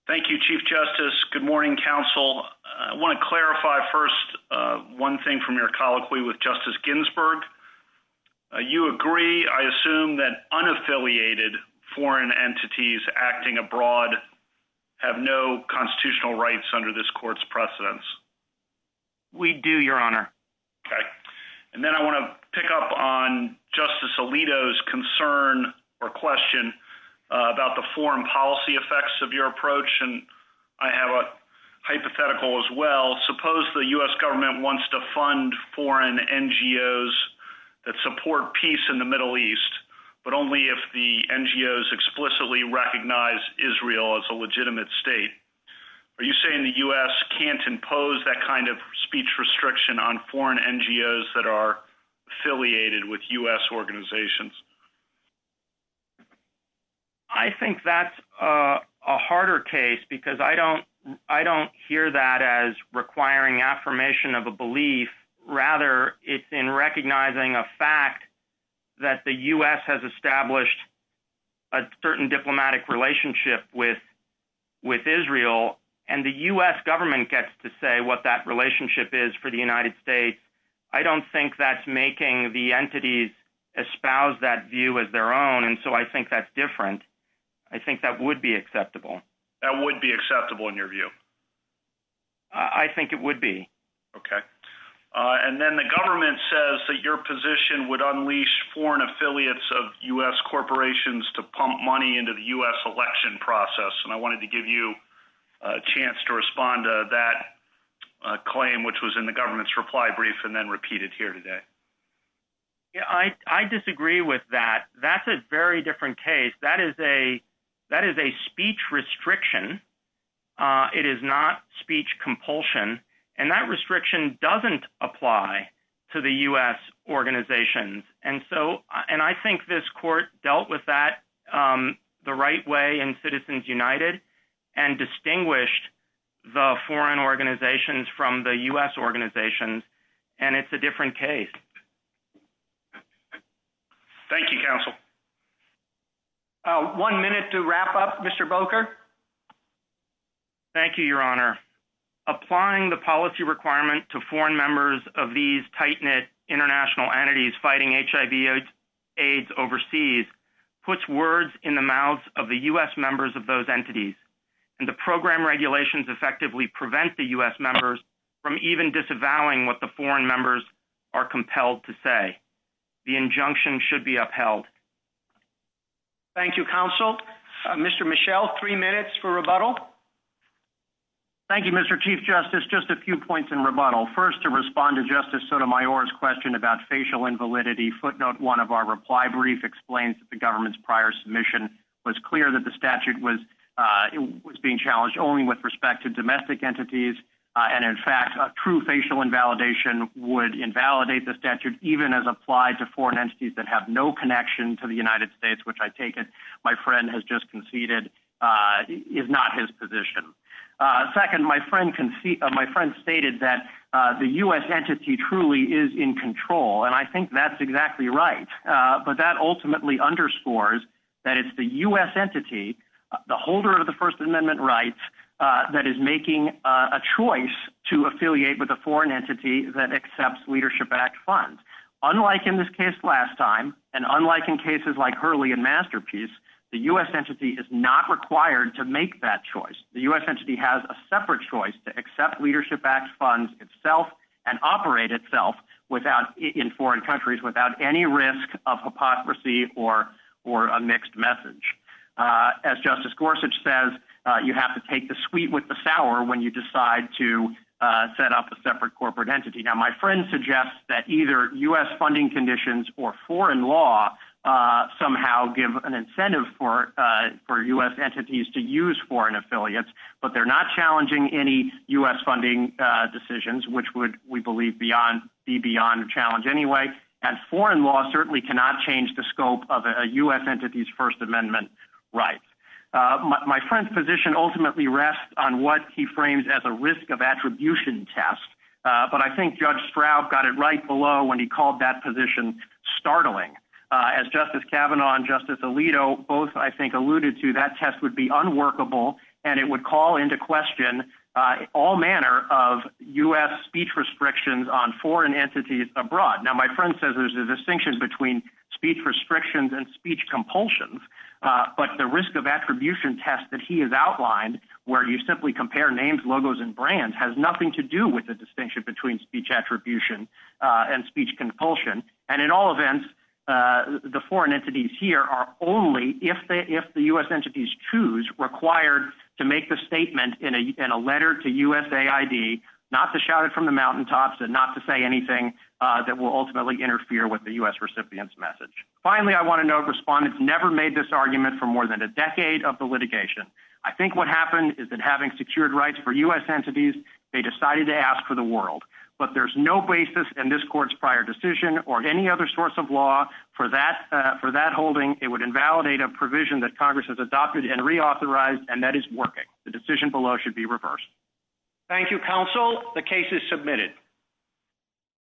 Thank you, Chief Justice. Good morning, Counsel. I want to clarify first one thing from your colloquy with Justice Ginsburg. You agree, I assume, that unaffiliated foreign entities acting abroad have no constitutional rights under this Court's precedents? We do, Your Honor. Okay. And then I want to pick up on Justice Alito's concern or question about the foreign policy effects of your approach, and I have a hypothetical as well. Suppose the U.S. government wants to fund foreign NGOs that support peace in the Middle East, but only if the NGOs explicitly recognize Israel as a legitimate state. Are you saying the U.S. can't impose that kind of speech restriction on foreign NGOs that are affiliated with U.S. organizations? I think that's a harder case because I don't hear that as requiring affirmation of a belief. Rather, it's in recognizing a fact that the U.S. has established a certain diplomatic relationship with Israel, and the U.S. government gets to say what that relationship is for the United States. I don't think that's making the entities espouse that view as their own, and so I think that's different. I think that would be acceptable. That would be acceptable in your view? I think it would be. Okay, and then the government says that your position would unleash foreign affiliates of U.S. corporations to pump money into the U.S. election process, and I wanted to give you a chance to respond to that claim, which was in the government's reply brief and then repeated here today. Yeah, I disagree with that. That's a very different case. That is a speech restriction. It is not speech compulsion, and that restriction doesn't apply to the U.S. organizations and so, and I think this court dealt with that the right way in Citizens United and distinguished the foreign organizations from the U.S. organizations, and it's a different case. Thank you, Counsel. One minute to wrap up, Mr. Boker. Thank you, Your Honor. Applying the policy requirement to foreign members of these tight-knit international entities fighting HIV AIDS overseas puts words in the mouths of the U.S. members of those entities, and the program regulations effectively prevent the U.S. members from even disavowing what the foreign members are compelled to say. The injunction should be upheld. Thank you, Counsel. Mr. Michel, three minutes for rebuttal. Thank you, Mr. Chief Justice. Just a few points in rebuttal. First, to respond to Justice Sotomayor's question about facial invalidity, footnote one of our reply brief explains that the government's prior submission was clear that the statute was being challenged only with respect to domestic entities, and in fact, a true facial invalidation would invalidate the statute even as applied to foreign entities that have no connection to the United States, which I take it, my friend has just conceded, is not his position. Second, my friend stated that the U.S. entity truly is in control, and I think that's exactly right, but that ultimately underscores that it's the U.S. entity, the holder of the First Amendment rights, that is making a choice to affiliate with a foreign entity that accepts leadership-backed funds. Unlike in this case last time, and unlike in cases like Hurley and Masterpiece, the U.S. entity is not required to make that choice. The U.S. entity has a separate choice to accept leadership-backed funds itself and operate itself in foreign countries without any risk of hypocrisy or a mixed message. As Justice Gorsuch says, you have to take the sweet with the sour when you decide to set up a separate corporate entity. Now, my friend suggests that either U.S. funding conditions or foreign law somehow give an incentive for U.S. entities to use foreign affiliates, but they're not challenging any U.S. funding decisions, which would, we believe, be beyond a challenge anyway, and foreign law certainly cannot change the scope of a U.S. entity's First Amendment rights. My friend's position ultimately rests on what he frames as a risk of attribution test, but I think Judge Straub got it right below when he called that position startling. As Justice Kavanaugh and Justice Alito both, I think, alluded to, that test would be unworkable and it would call into question all manner of U.S. speech restrictions on foreign entities abroad. Now, my friend says there's a distinction between speech restrictions and speech compulsions, but the risk of attribution test that he has outlined, where you simply compare names, logos, and brands, has nothing to do with the distinction between speech attribution and speech compulsion, and in all events, the foreign entities here are only, if the U.S. entities choose, required to make the statement in a letter to USAID, not to shout it from the mountaintops and not to say anything that will ultimately interfere with the U.S. recipient's message. Finally, I wanna note, respondents never made this argument for more than a decade of the litigation. I think what happened is that having secured rights for U.S. entities, they decided to ask for the world, but there's no basis in this court's prior decision or any other source of law for that holding it would invalidate a provision that Congress has adopted and reauthorized, and that is working. The decision below should be reversed. Thank you, counsel. The case is submitted.